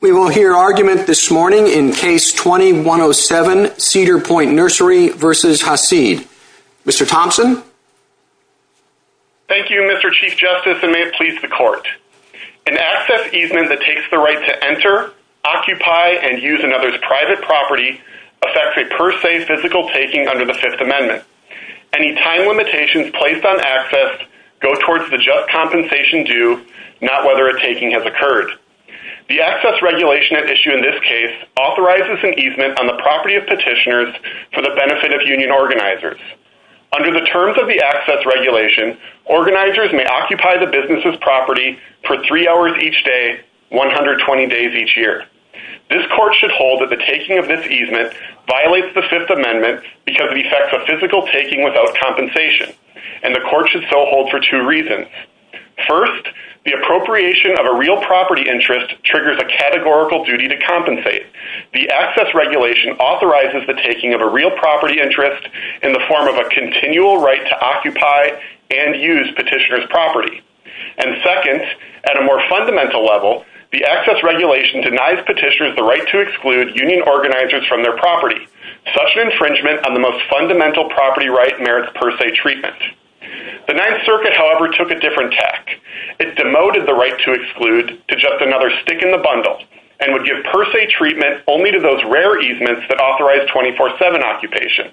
We will hear argument this morning in Case 2107, Cedar Point Nursery v. Hassid. Mr. Thompson? Thank you, Mr. Chief Justice, and may it please the Court. An access easement that takes the right to enter, occupy, and use another's private property affects a per se physical taking under the Fifth Amendment. Any time limitations placed on access go towards the just compensation due, not whether a taking has occurred. The access regulation at issue in this case authorizes an easement on the property of petitioners for the benefit of union organizers. Under the terms of the access regulation, organizers may occupy the business's property for three hours each day, 120 days each year. This Court should hold that the taking of this easement violates the Fifth Amendment because it affects a physical taking without compensation, and the Court should so hold for two reasons. First, the appropriation of a real property interest triggers a categorical duty to compensate. The access regulation authorizes the taking of a real property interest in the form of a continual right to occupy and use petitioners' property. And second, at a more fundamental level, the access regulation denies petitioners the right to exclude union organizers from their property. Such an infringement on the most fundamental property right merits per se treatment. The Ninth Circuit, however, took a different tack. It demoted the right to exclude to just another stick in the bundle and would give per se treatment only to those rare easements that authorized 24-7 occupation.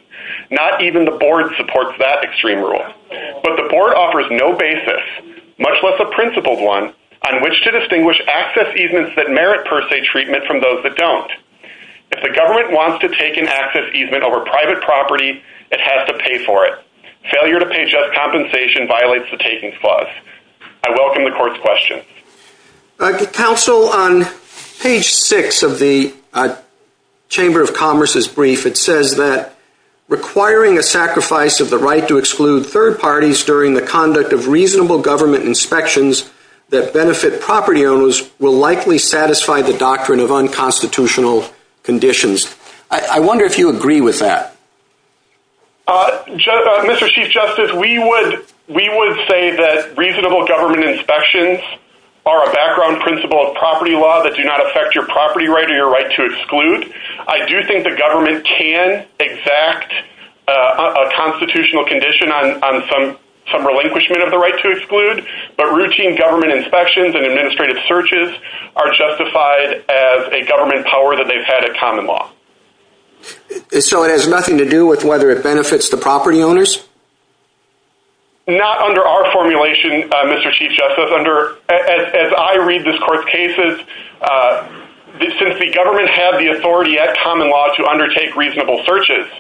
Not even the Board supports that extreme rule. But the Board offers no basis, much less a principled one, on which to distinguish access easements that merit per se treatment from those that don't. If the government wants to take an access easement over private property, it has to violate the taking clause. I welcome the Court's questions. Counsel, on page 6 of the Chamber of Commerce's brief, it says that requiring a sacrifice of the right to exclude third parties during the conduct of reasonable government inspections that benefit property owners will likely satisfy the doctrine of unconstitutional conditions. I wonder if you agree with that. Mr. Chief Justice, we would say that reasonable government inspections are a background principle of property law that do not affect your property right or your right to exclude. I do think the government can exact a constitutional condition on some relinquishment of the right to exclude. But routine government inspections and administrative searches are justified as a government power that they've had at common law. So it has nothing to do with whether it benefits the property owners? Not under our formulation, Mr. Chief Justice. As I read this Court's cases, since the government has the authority at common law to undertake reasonable searches,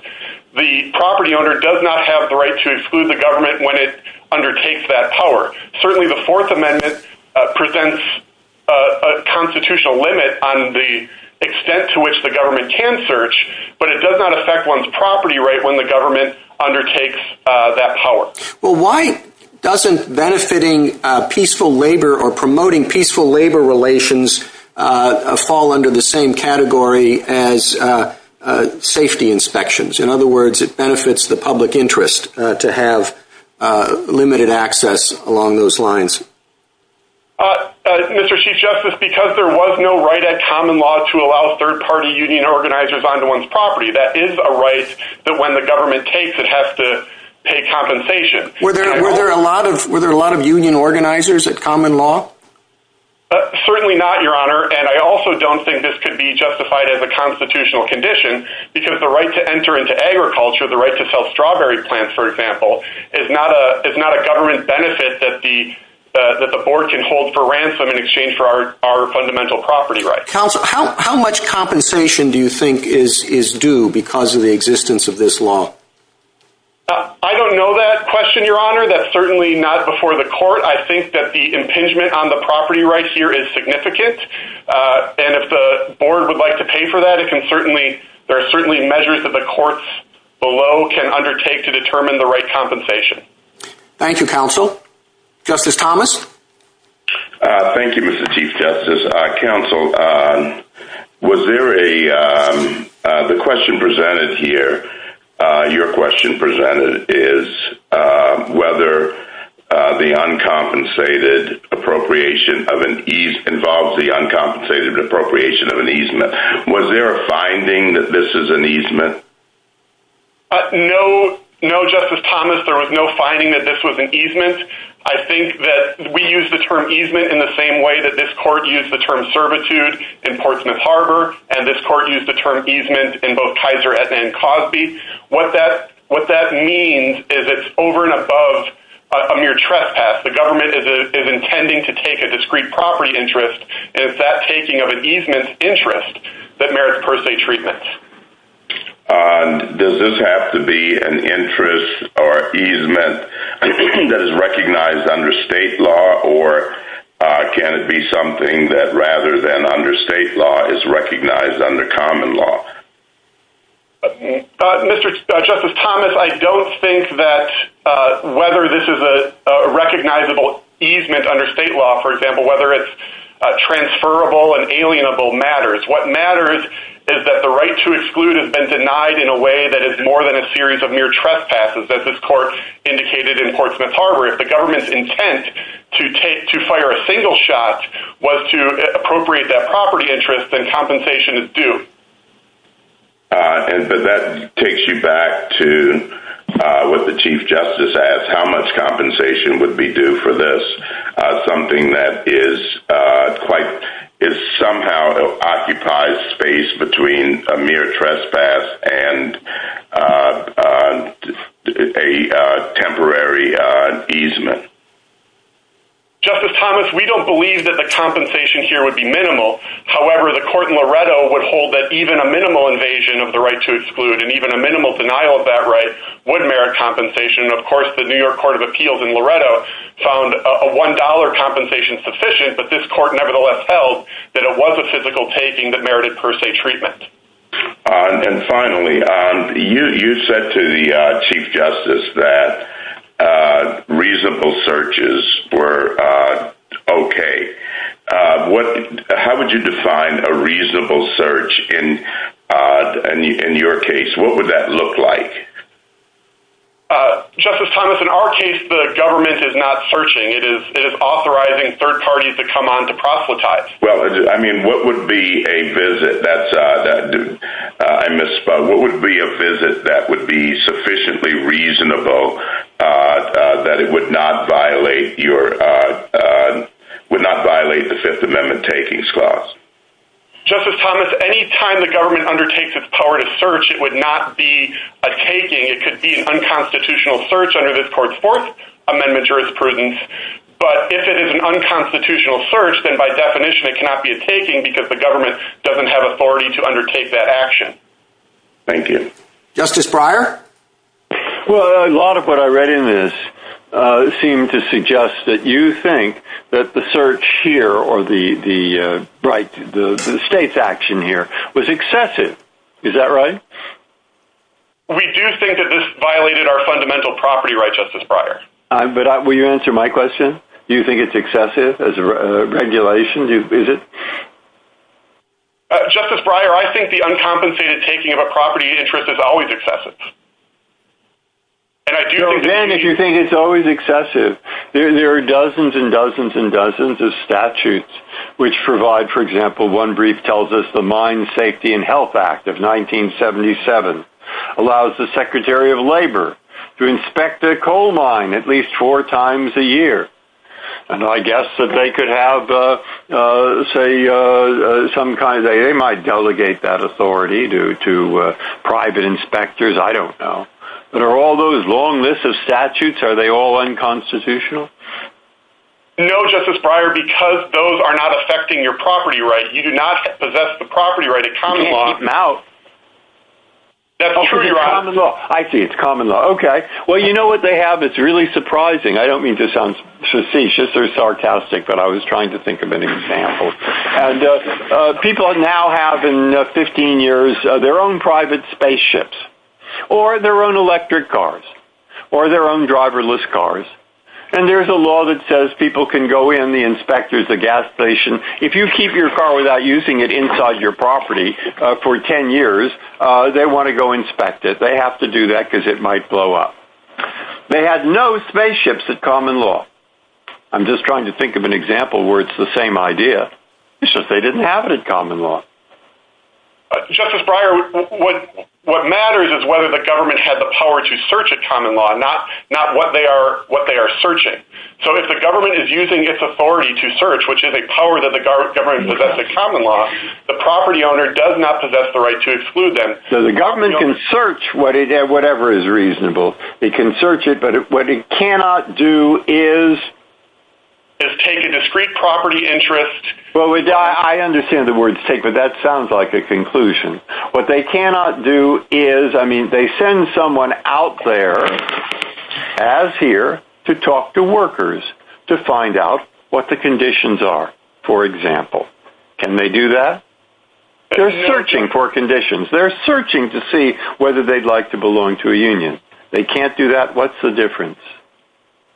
the property owner does not have the right to exclude the government when it undertakes that power. Certainly the Fourth Amendment presents a constitutional limit on the extent to which the government can search, but it does not affect one's property right when the government undertakes that power. Well, why doesn't benefiting peaceful labor or promoting peaceful labor relations fall under the same category as safety inspections? In other words, it benefits the public interest to have limited access along those lines. Mr. Chief Justice, because there was no right at common law to allow third-party union organizers onto one's property, that is a right that when the government takes it has to pay compensation. Were there a lot of union organizers at common law? Certainly not, Your Honor, and I also don't think this could be justified as a constitutional condition because the right to enter into agriculture, the right to sell strawberry plants, for example, is not a government benefit that the board can hold for ransom in exchange for our fundamental property rights. Counsel, how much compensation do you think is due because of the existence of this law? I don't know that question, Your Honor, that's certainly not before the court. I think that the impingement on the property right here is significant, and if the board would like to pay for that, there are certainly measures that the courts below can undertake to determine the right compensation. Thank you, Counsel. Justice Thomas? Thank you, Mr. Chief Justice. Counsel, the question presented here, your question presented is whether the uncompensated appropriation of an easement involves the uncompensated appropriation of an easement. Was there a finding that this is an easement? No, Justice Thomas, there was no finding that this was an easement. I think that we use the term easement in the same way that this court used the term servitude in Portsmouth Harbor, and this court used the term easement in both Kaiser, Aetna, and Cosby. What that means is it's over and above a mere trespass. The government is intending to take a discrete property interest, and it's that taking of an easement interest that merits per se treatment. Does this have to be an interest or easement that is recognized under state law, or can it be something that rather than under state law is recognized under common law? Mr. Justice Thomas, I don't think that whether this is a recognizable easement under state law, for example, whether it's transferable and alienable matters. What matters is that the right to exclude has been denied in a way that is more than a series of mere trespasses, as this court indicated in Portsmouth Harbor. If the government's intent to fire a single shot was to appropriate that property interest, then compensation is due. But that takes you back to what the Chief Justice asked, how much compensation would be due for this, something that is somehow occupies space between a mere trespass and a temporary easement. Justice Thomas, we don't believe that the compensation here would be minimal. However, the court in Loretto would hold that even a minimal invasion of the right to exclude and even a minimal denial of that right would merit compensation. Of course, the New York Court of Appeals in Loretto found a $1 compensation sufficient, but this court nevertheless held that it was a physical taking that merited per se treatment. Finally, you said to the Chief Justice that reasonable searches were okay. How would you define a reasonable search in your case? What would that look like? Justice Thomas, in our case, the government is not searching. It is authorizing third parties to come on to proselytize. Well, I mean, what would be a visit that would be sufficiently reasonable that it would not violate the Fifth Amendment takings clause? Justice Thomas, any time the government undertakes its power to search, it would not be a taking. It could be an unconstitutional search under this Court's Fourth Amendment jurisprudence. But if it is an unconstitutional search, then by definition it cannot be a taking because the government doesn't have authority to undertake that action. Thank you. Justice Breyer? Well, a lot of what I read in this seemed to suggest that you think that the search here or the state's action here was excessive. Is that right? We do think that this violated our fundamental property rights, Justice Breyer. But will you answer my question? Do you think it's excessive as a regulation? Is it? Justice Breyer, I think the uncompensated taking of a property interest is always excessive. Then, if you think it's always excessive, there are dozens and dozens and dozens of statutes which provide, for example, one brief tells us the Mine Safety and Health Act of 1977 allows the Secretary of Labor to inspect a coal mine at least four times a year. And I guess that they could have, say, some kind of, they might delegate that authority to private inspectors. I don't know. But are all those long lists of statutes, are they all unconstitutional? No, Justice Breyer, because those are not affecting your property right. You do not possess the property right. You can't keep them out. That's a treaty right. I see. It's common law. Okay. Well, you know what they have that's really surprising. I don't mean to sound facetious or sarcastic, but I was trying to think of an example. People now have in 15 years their own private spaceships or their own electric cars or their own driverless cars. And there's a law that says people can go in, the inspectors, the gas station. If you keep your car without using it inside your property for 10 years, they want to go inspect it. They have to do that because it might blow up. They had no spaceships at common law. I'm just trying to think of an example where it's the same idea. It's just they didn't have it at common law. Justice Breyer, what matters is whether the government had the power to search at common law, not what they are searching. So if the government is using its authority to search, which is a power that the government possesses at common law, the property owner does not possess the right to exclude them. So the government can search whatever is reasonable. They can search it, but what it cannot do is take a discrete property interest. Well, I understand the word take, but that sounds like a conclusion. What they cannot do is, I mean, they send someone out there, as here, to talk to workers to find out what the conditions are, for example. Can they do that? They're searching for conditions. They're searching to see whether they'd like to belong to a union. They can't do that. What's the difference?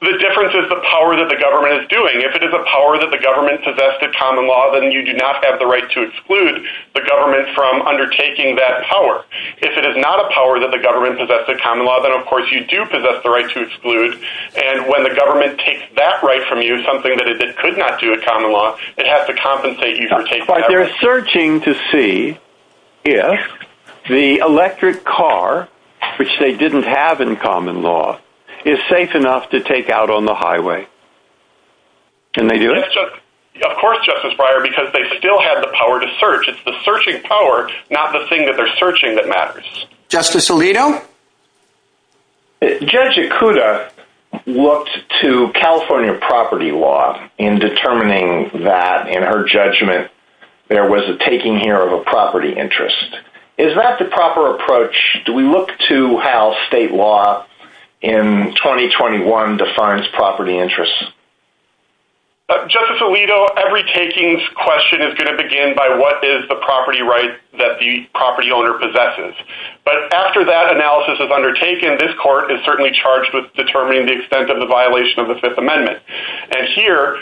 The difference is the power that the government is doing. If it is a power that the government possesses at common law, then you do not have the right to exclude the government from undertaking that power. If it is not a power that the government possesses at common law, then, of course, you do possess the right to exclude. And when the government takes that right from you, something that it could not do at common law, it has to compensate you for taking that right. But they're searching to see if the electric car, which they didn't have in common law, is safe enough to take out on the highway. Can they do it? Of course, Justice Breyer, because they still have the power to search. It's the searching power, not the thing that they're searching, that matters. Justice Alito? Judge Ikuda looked to California property law in determining that, in her judgment, there was a taking here of a property interest. Is that the proper approach? Do we look to how state law in 2021 defines property interests? Justice Alito, every takings question is going to begin by what is the property right that the property owner possesses. But after that analysis is undertaken, this court is certainly charged with determining the extent of the violation of the Fifth Amendment. And here,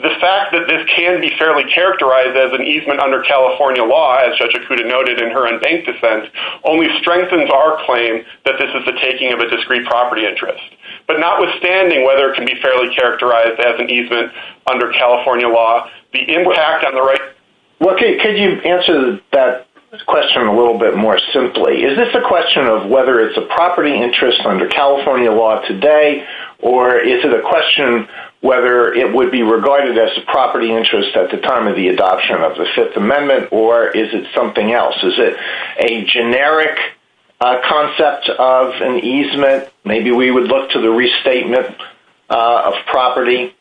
the fact that this can be fairly characterized as an easement under California law, as Judge Ikuda noted in her unbanked defense, only strengthens our claim that this is the taking of a discrete property interest. But notwithstanding whether it can be fairly characterized as an easement under California law, the impact on the right… Could you answer that question a little bit more simply? Is this a question of whether it's a property interest under California law today, or is it a question whether it would be regarded as a property interest at the time of the adoption of the Fifth Amendment, or is it something else? Is it a generic concept of an easement? Maybe we would look to the restatement of property.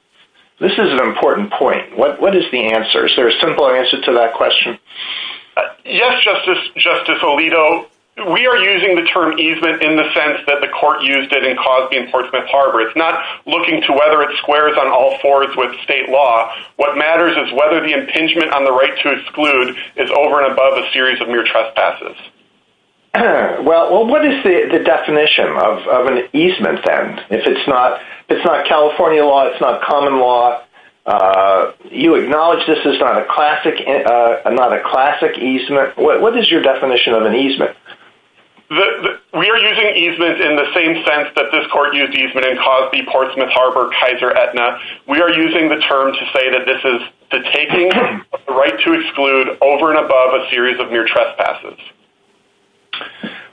This is an important point. What is the answer? Is there a simple answer to that question? Yes, Justice Alito. We are using the term easement in the sense that the court used it in Cosby v. Portsmouth Harbor. It's not looking to whether it squares on all fours with state law. What matters is whether the impingement on the right to exclude is over and above a series of mere trespasses. Well, what is the definition of an easement then? If it's not California law, it's not common law, you acknowledge this is not a classic easement. What is your definition of an easement? We are using easement in the same sense that this court used easement in Cosby v. Portsmouth Harbor, Kaiser, Aetna. We are using the term to say that this is the taking of the right to exclude over and above a series of mere trespasses.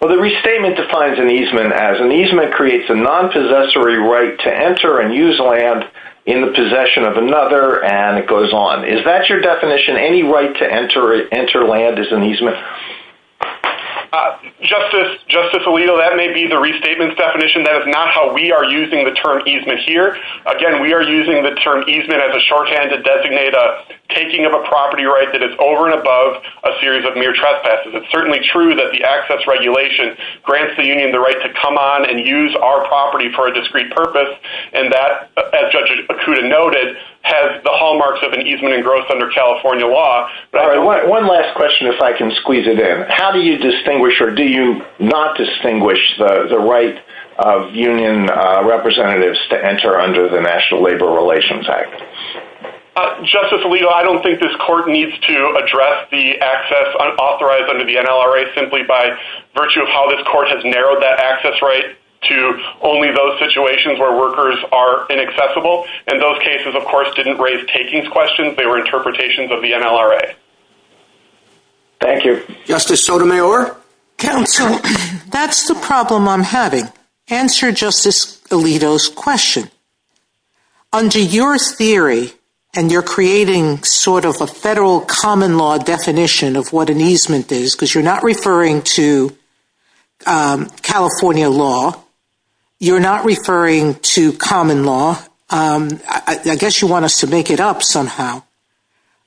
Well, the restatement defines an easement as an easement creates a non-possessory right to enter and use land in the possession of another and it goes on. Is that your definition? Any right to enter land is an easement? Justice Alito, that may be the restatement's definition. That is not how we are using the term easement here. Again, we are using the term easement as a shorthand to designate a taking of a property right that is over and above a series of mere trespasses. It's certainly true that the access regulation grants the union the right to come on and use our property for a discrete purpose. And that, as Judge Okuda noted, has the hallmarks of an easement engrossed under California law. One last question if I can squeeze it in. How do you distinguish or do you not distinguish the right of union representatives to enter under the National Labor Relations Act? Justice Alito, I don't think this court needs to address the access authorized under the NLRA simply by virtue of how this court has narrowed that access right to only those situations where workers are inaccessible. And those cases, of course, didn't raise takings questions. They were interpretations of the NLRA. Thank you. Justice Sotomayor? Counsel, that's the problem I'm having. Answer Justice Alito's question. Under your theory, and you're creating sort of a federal common law definition of what an easement is because you're not referring to California law. You're not referring to common law. I guess you want us to make it up somehow.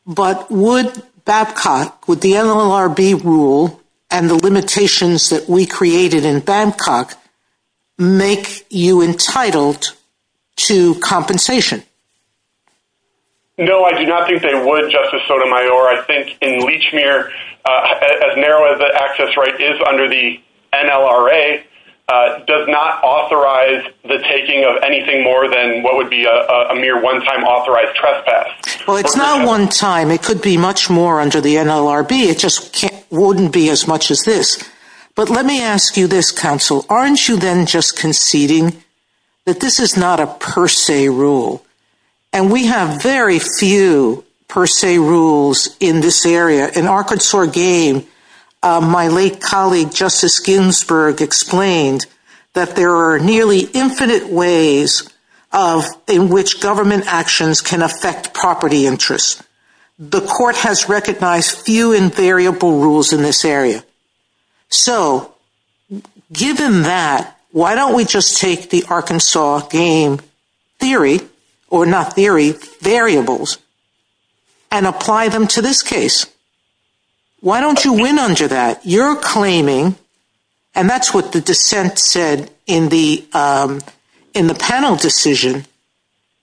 But would Babcock, with the NLRB rule and the limitations that we created in Babcock, make you entitled to compensation? No, I do not think they would, Justice Sotomayor. I think in Lechmere, as narrow as the access right is under the NLRA, does not authorize the taking of anything more than what would be a mere one-time authorized trespass. Well, it's not one-time. It could be much more under the NLRB. It just wouldn't be as much as this. But let me ask you this, Counsel. Aren't you then just conceding that this is not a per se rule? And we have very few per se rules in this area. In Arkansas Game, my late colleague Justice Ginsburg explained that there are nearly infinite ways in which government actions can affect property interests. The court has recognized few invariable rules in this area. So given that, why don't we just take the Arkansas Game theory, or not theory, variables, and apply them to this case? Why don't you win under that? And that's what the dissent said in the panel decision.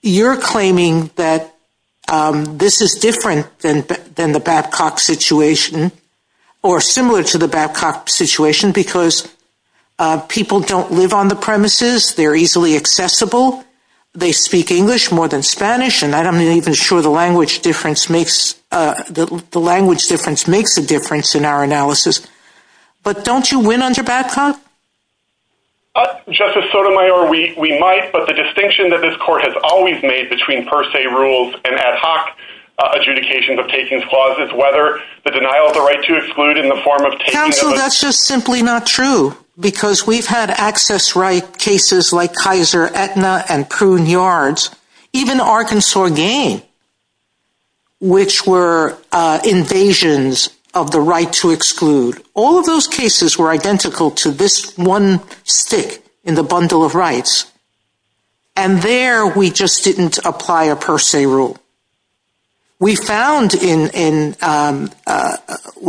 You're claiming that this is different than the Babcock situation, or similar to the Babcock situation, because people don't live on the premises. They're easily accessible. They speak English more than Spanish. I'm not even sure the language difference makes a difference in our analysis. But don't you win under Babcock? Justice Sotomayor, we might. But the distinction that this court has always made between per se rules and ad hoc adjudications of takings clause is whether the denial of the right to exclude in the form of taking of a— Counsel, that's just simply not true. Because we've had access right cases like Kaiser, Aetna, and Kroon Yards. Even the Arkansas Game, which were invasions of the right to exclude. All of those cases were identical to this one stick in the bundle of rights. And there, we just didn't apply a per se rule. We found in—we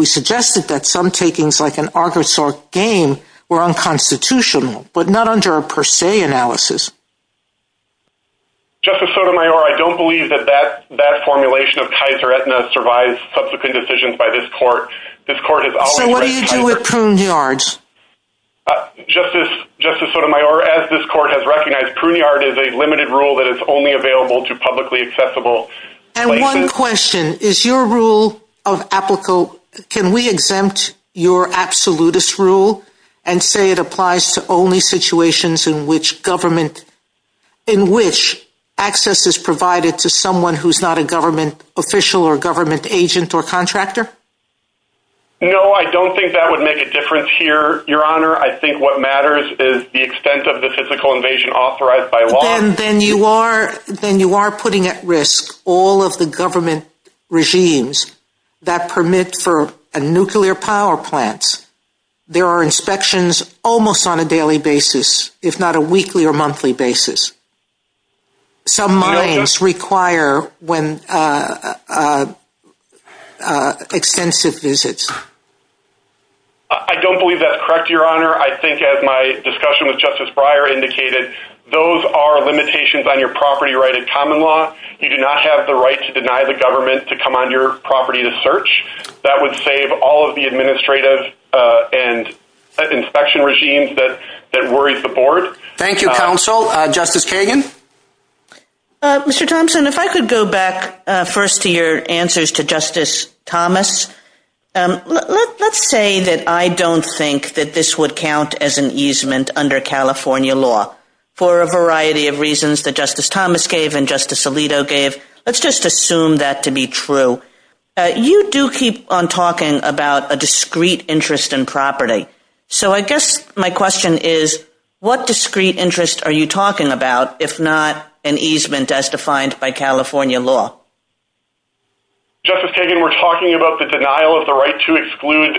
suggested that some takings like an Arkansas Game were unconstitutional, but not under a per se analysis. Justice Sotomayor, I don't believe that that formulation of Kaiser, Aetna survives subsequent decisions by this court. This court has always— So what do you do with Kroon Yards? Justice Sotomayor, as this court has recognized, Kroon Yard is a limited rule that is only available to publicly accessible places. And one question, is your rule of applicable—can we exempt your absolutist rule and say it applies to only situations in which government—in which access is provided to someone who's not a government official or government agent or contractor? No, I don't think that would make a difference here, Your Honor. I think what matters is the extent of the physical invasion authorized by law. Then you are putting at risk all of the government regimes that permit for nuclear power plants. There are inspections almost on a daily basis, if not a weekly or monthly basis. Some mines require extensive visits. I don't believe that's correct, Your Honor. I think as my discussion with Justice Breyer indicated, those are limitations on your property right at common law. You do not have the right to deny the government to come on your property to search. That would save all of the administrative and inspection regimes that worry the board. Thank you, counsel. Justice Kagan? Mr. Thompson, if I could go back first to your answers to Justice Thomas. Let's say that I don't think that this would count as an easement under California law for a variety of reasons that Justice Thomas gave and Justice Alito gave. Let's just assume that to be true. You do keep on talking about a discrete interest in property. I guess my question is, what discrete interest are you talking about, if not an easement as defined by California law? Justice Kagan, we're talking about the denial of the right to exclude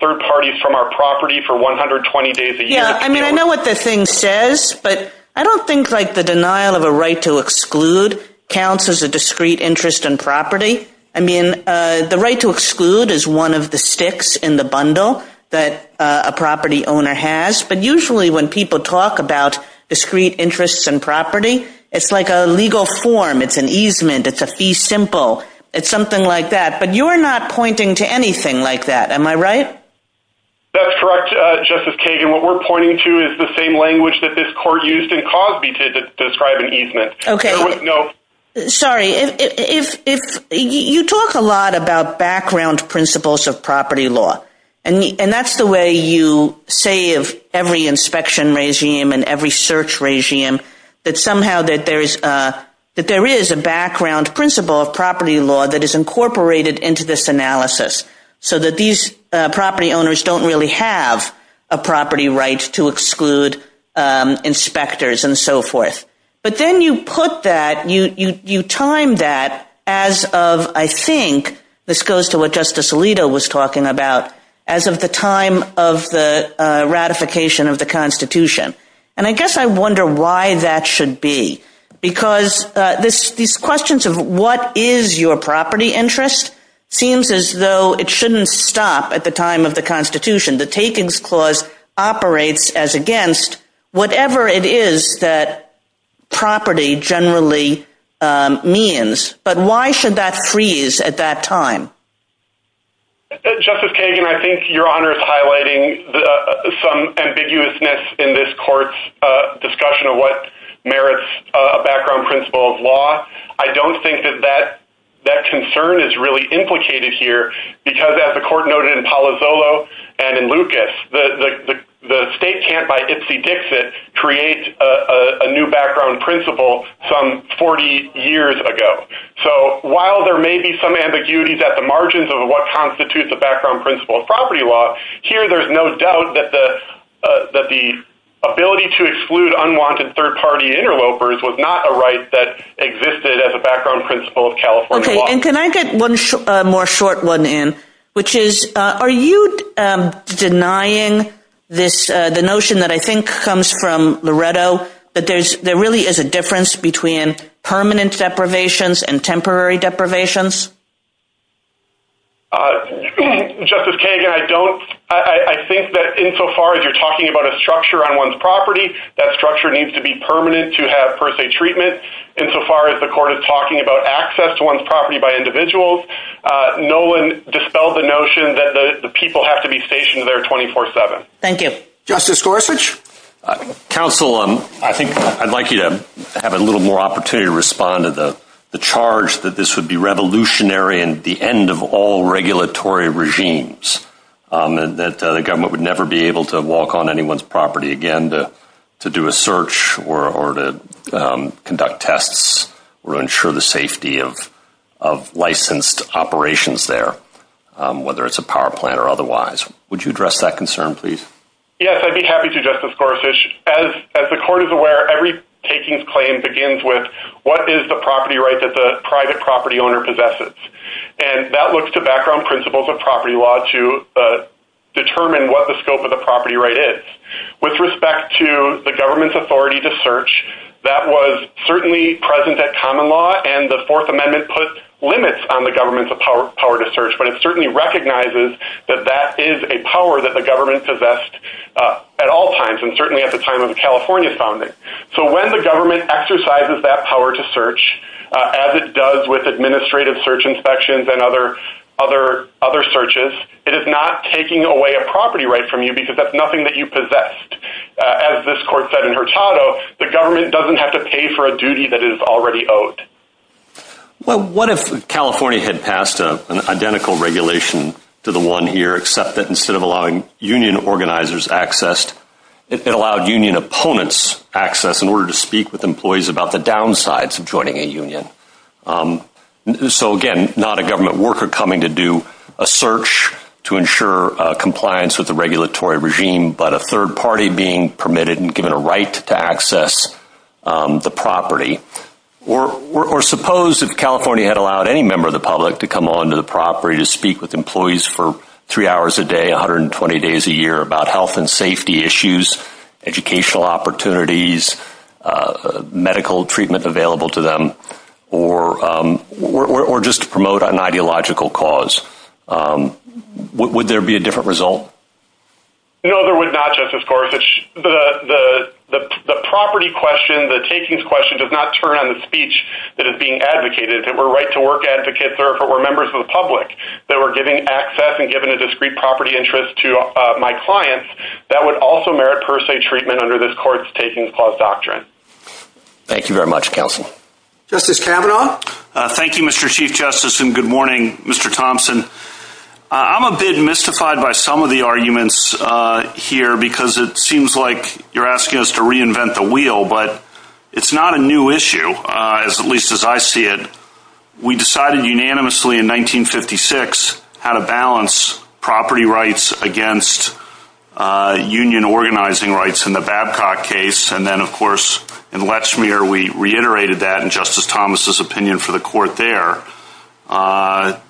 third parties from our property for 120 days a year. I know what the thing says, but I don't think the denial of a right to exclude counts as a discrete interest in property. I mean, the right to exclude is one of the sticks in the bundle that a property owner has. But usually when people talk about discrete interests in property, it's like a legal form. It's an easement. It's a fee simple. It's something like that. But you're not pointing to anything like that. Am I right? That's correct, Justice Kagan. What we're pointing to is the same language that this court used in Cosby to describe an easement. Sorry. You talk a lot about background principles of property law, and that's the way you say of every inspection regime and every search regime, that somehow that there is a background principle of property law that is incorporated into this analysis, so that these property owners don't really have a property right to exclude inspectors and so forth. But then you put that, you time that as of, I think, this goes to what Justice Alito was talking about, as of the time of the ratification of the Constitution. And I guess I wonder why that should be. Because these questions of what is your property interest seems as though it shouldn't stop at the time of the Constitution. The Takings Clause operates as against whatever it is that property generally means. But why should that freeze at that time? Justice Kagan, I think Your Honor is highlighting some ambiguousness in this court's discussion of what merits a background principle of law. I don't think that that concern is really implicated here, because as the court noted in Palazzolo and in Lucas, the state can't by ipsy-dixit create a new background principle some 40 years ago. So while there may be some ambiguities at the margins of what constitutes a background principle of property law, here there's no doubt that the ability to exclude unwanted third-party interlopers was not a right that existed as a background principle of California law. Okay, and can I get one more short one in, which is, are you denying the notion that I think comes from Loretto, that there really is a difference between permanent deprivations and temporary deprivations? Justice Kagan, I think that insofar as you're talking about a structure on one's property, that structure needs to be permanent to have per se treatment. Insofar as the court is talking about access to one's property by individuals, no one dispelled the notion that the people have to be stationed there 24-7. Thank you. Justice Gorsuch? Counsel, I think I'd like you to have a little more opportunity to respond to the charge that this would be revolutionary and the end of all regulatory regimes, that the government would never be able to walk on anyone's property again to do a search or to conduct tests or ensure the safety of licensed operations there, whether it's a power plant or otherwise. Would you address that concern, please? Yes, I'd be happy to, Justice Gorsuch. As the court is aware, every takings claim begins with, what is the property right that the private property owner possesses? And that looks to background principles of property law to determine what the scope of the property right is. With respect to the government's authority to search, that was certainly present at common law, and the Fourth Amendment put limits on the government's power to search, but it certainly recognizes that that is a power that the government possessed at all times, and certainly at the time of the California founding. So when the government exercises that power to search, as it does with administrative search inspections and other searches, it is not taking away a property right from you because that's nothing that you possessed. As this court said in Hurtado, the government doesn't have to pay for a duty that is already owed. Well, what if California had passed an identical regulation to the one here, except that instead of allowing union organizers access, it allowed union opponents access in order to speak with employees about the downsides of joining a union? So again, not a government worker coming to do a search to ensure compliance with the regulatory regime, but a third party being permitted and given a right to access the property. Or suppose if California had allowed any member of the public to come onto the property to speak with employees for three hours a day, 120 days a year, about health and safety issues, educational opportunities, medical treatment available to them, or just to promote an ideological cause. Would there be a different result? No, there would not, Justice Gorsuch. The property question, the takings question, does not turn on the speech that is being advocated. If it were right-to-work advocates or if it were members of the public that were giving access and giving a discrete property interest to my clients, that would also merit per se treatment under this court's takings clause doctrine. Thank you very much, Counsel. Justice Kavanaugh? Thank you, Mr. Chief Justice, and good morning, Mr. Thompson. I'm a bit mystified by some of the arguments here because it seems like you're asking us to reinvent the wheel, but it's not a new issue, at least as I see it. We decided unanimously in 1956 how to balance property rights against union organizing rights in the Babcock case, and then, of course, in Letchmere we reiterated that in Justice Thomas' opinion for the court there.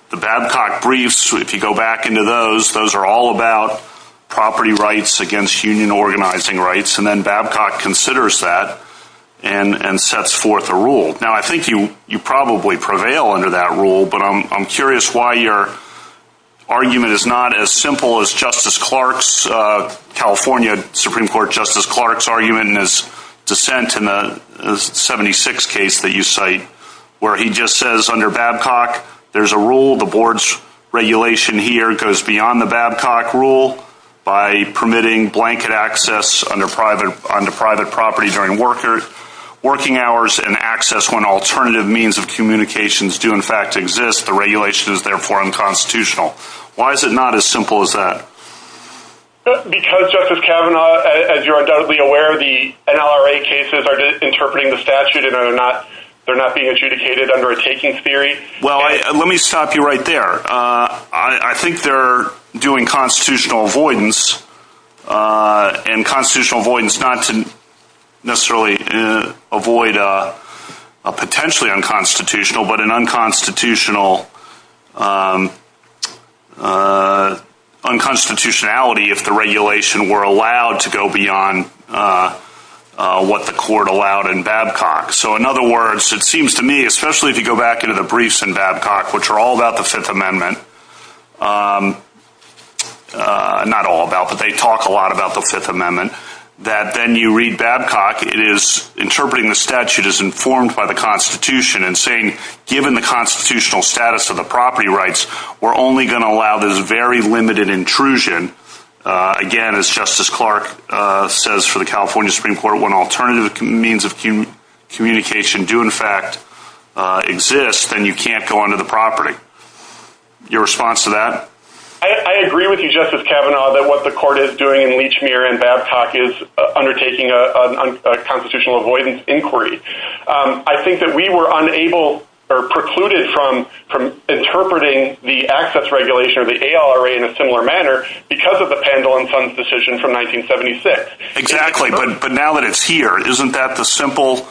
The Babcock briefs, if you go back into those, those are all about property rights against union organizing rights, and then Babcock considers that and sets forth a rule. Now, I think you probably prevail under that rule, but I'm curious why your argument is not as simple as Justice Clark's, California Supreme Court Justice Clark's, argument in his dissent in the 76 case that you cite where he just says under Babcock there's a rule, the board's regulation here goes beyond the Babcock rule by permitting blanket access under private property during working hours and access when alternative means of communications do in fact exist. The regulation is therefore unconstitutional. Why is it not as simple as that? Because, Justice Kavanaugh, as you're undoubtedly aware, the NLRA cases are interpreting the statute, and they're not being adjudicated under a takings theory. Well, let me stop you right there. I think they're doing constitutional avoidance, and constitutional avoidance not to necessarily avoid a potentially unconstitutional, but an unconstitutionality if the regulation were allowed to go beyond what the court allowed in Babcock. So, in other words, it seems to me, especially if you go back into the briefs in Babcock, which are all about the Fifth Amendment, not all about, but they talk a lot about the Fifth Amendment, that then you read Babcock, it is interpreting the statute as informed by the Constitution and saying given the constitutional status of the property rights, we're only going to allow this very limited intrusion. Again, as Justice Clark says for the California Supreme Court, when alternative means of communication do in fact exist, then you can't go under the property. Your response to that? I agree with you, Justice Kavanaugh, that what the court is doing in Lechmere and Babcock is undertaking a constitutional avoidance inquiry. I think that we were unable or precluded from interpreting the access regulation or the ALRA in a similar manner because of the Pendle and Sons decision from 1976. Exactly, but now that it's here, isn't that the simple,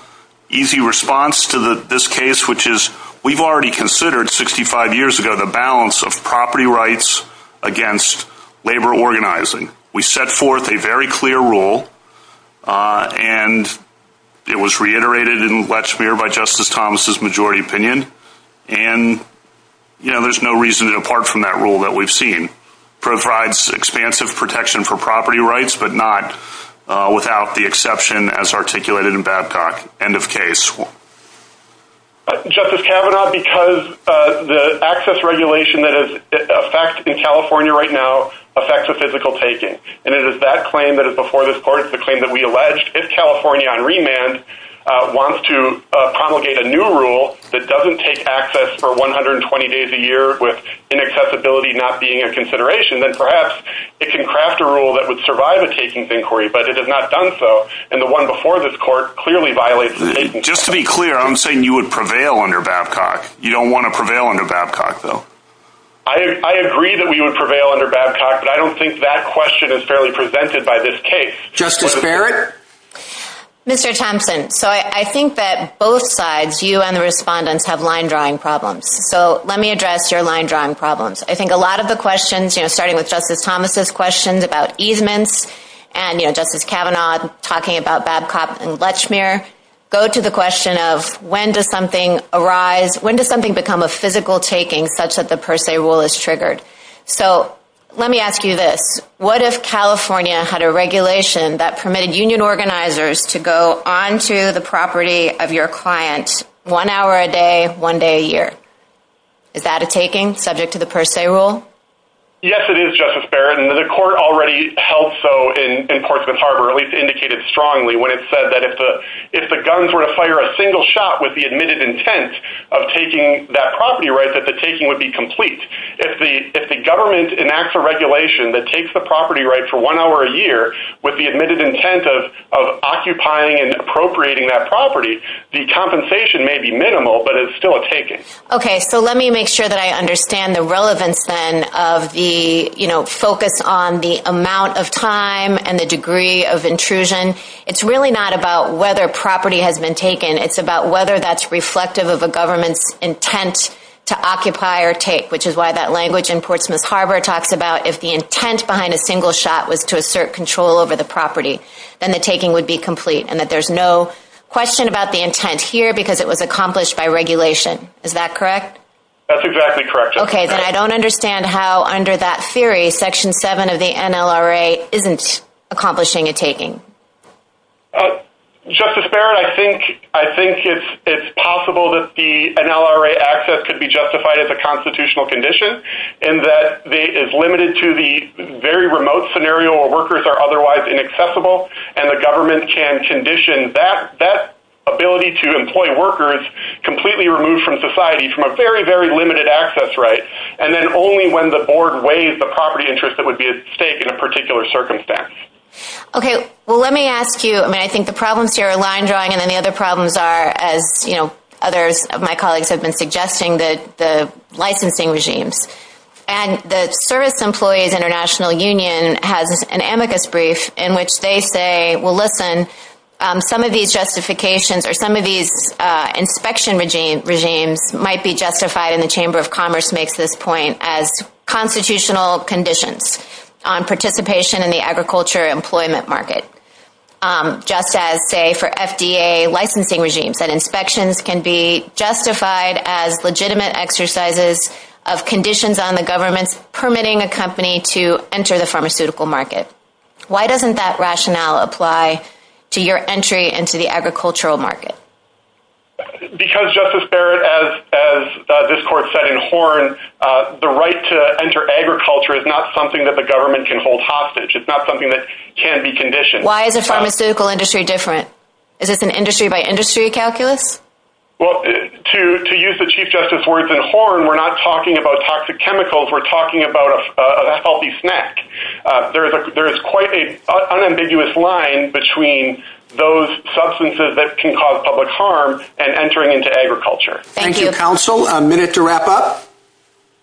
easy response to this case, which is we've already considered 65 years ago the balance of property rights against labor organizing. We set forth a very clear rule, and it was reiterated in Lechmere by Justice Thomas' majority opinion, and there's no reason to depart from that rule that we've seen. It provides expansive protection for property rights, but not without the exception as articulated in Babcock, end of case. Justice Kavanaugh, because the access regulation that is in effect in California right now affects the physical taking, and it is that claim that is before this court, the claim that we alleged. If California on remand wants to promulgate a new rule that doesn't take access for 120 days a year with inaccessibility not being a consideration, then perhaps it can craft a rule that would survive a takings inquiry, but it has not done so, and the one before this court clearly violates the taking. Just to be clear, I'm saying you would prevail under Babcock. You don't want to prevail under Babcock, though. I agree that we would prevail under Babcock, but I don't think that question is fairly presented by this case. Justice Barrett? Mr. Thompson, so I think that both sides, you and the respondents, have line-drawing problems, so let me address your line-drawing problems. I think a lot of the questions, starting with Justice Thomas' questions about easements, and Justice Kavanaugh talking about Babcock and Lechmere, go to the question of when does something arise, when does something become a physical taking such that the per se rule is triggered? So let me ask you this. What if California had a regulation that permitted union organizers to go onto the property of your client one hour a day, one day a year? Is that a taking subject to the per se rule? Yes, it is, Justice Barrett, and the court already held so in Portsmouth Harbor, at least indicated strongly when it said that if the guns were to fire a single shot with the admitted intent of taking that property right, that the taking would be complete. If the government enacts a regulation that takes the property right for one hour a year with the admitted intent of occupying and appropriating that property, the compensation may be minimal, but it's still a taking. Okay, so let me make sure that I understand the relevance then of the focus on the amount of time and the degree of intrusion. It's really not about whether property has been taken. It's about whether that's reflective of a government's intent to occupy or take, which is why that language in Portsmouth Harbor talks about if the intent behind a single shot was to assert control over the property, then the taking would be complete and that there's no question about the intent here because it was accomplished by regulation. Is that correct? That's exactly correct. Okay, then I don't understand how under that theory, Section 7 of the NLRA isn't accomplishing a taking. Justice Barrett, I think it's possible that the NLRA access could be justified as a constitutional condition in that it is limited to the very remote scenario where workers are otherwise inaccessible and the government can condition that ability to employ workers completely removed from society from a very, very limited access right, and then only when the board weighs the property interest that would be at stake in a particular circumstance. Okay, well let me ask you, I mean, I think the problems here are line drawing and then the other problems are, as others of my colleagues have been suggesting, the licensing regimes. And the Service Employees International Union has an amicus brief in which they say, well listen, some of these justifications or some of these inspection regimes might be justified and the Chamber of Commerce makes this point as constitutional conditions on participation in the agriculture employment market. Just as, say, for FDA licensing regimes that inspections can be justified as legitimate exercises of conditions on the government's permitting a company to enter the pharmaceutical market. Why doesn't that rationale apply to your entry into the agricultural market? Because, Justice Barrett, as this court said in Horn, the right to enter agriculture is not something that the government can hold hostage, it's not something that can be conditioned. Why is the pharmaceutical industry different? Is this an industry by industry calculus? Well, to use the Chief Justice's words in Horn, we're not talking about toxic chemicals, we're talking about a healthy snack. There is quite an unambiguous line between those substances that can cause public harm and entering into agriculture. Thank you, Counsel. A minute to wrap up?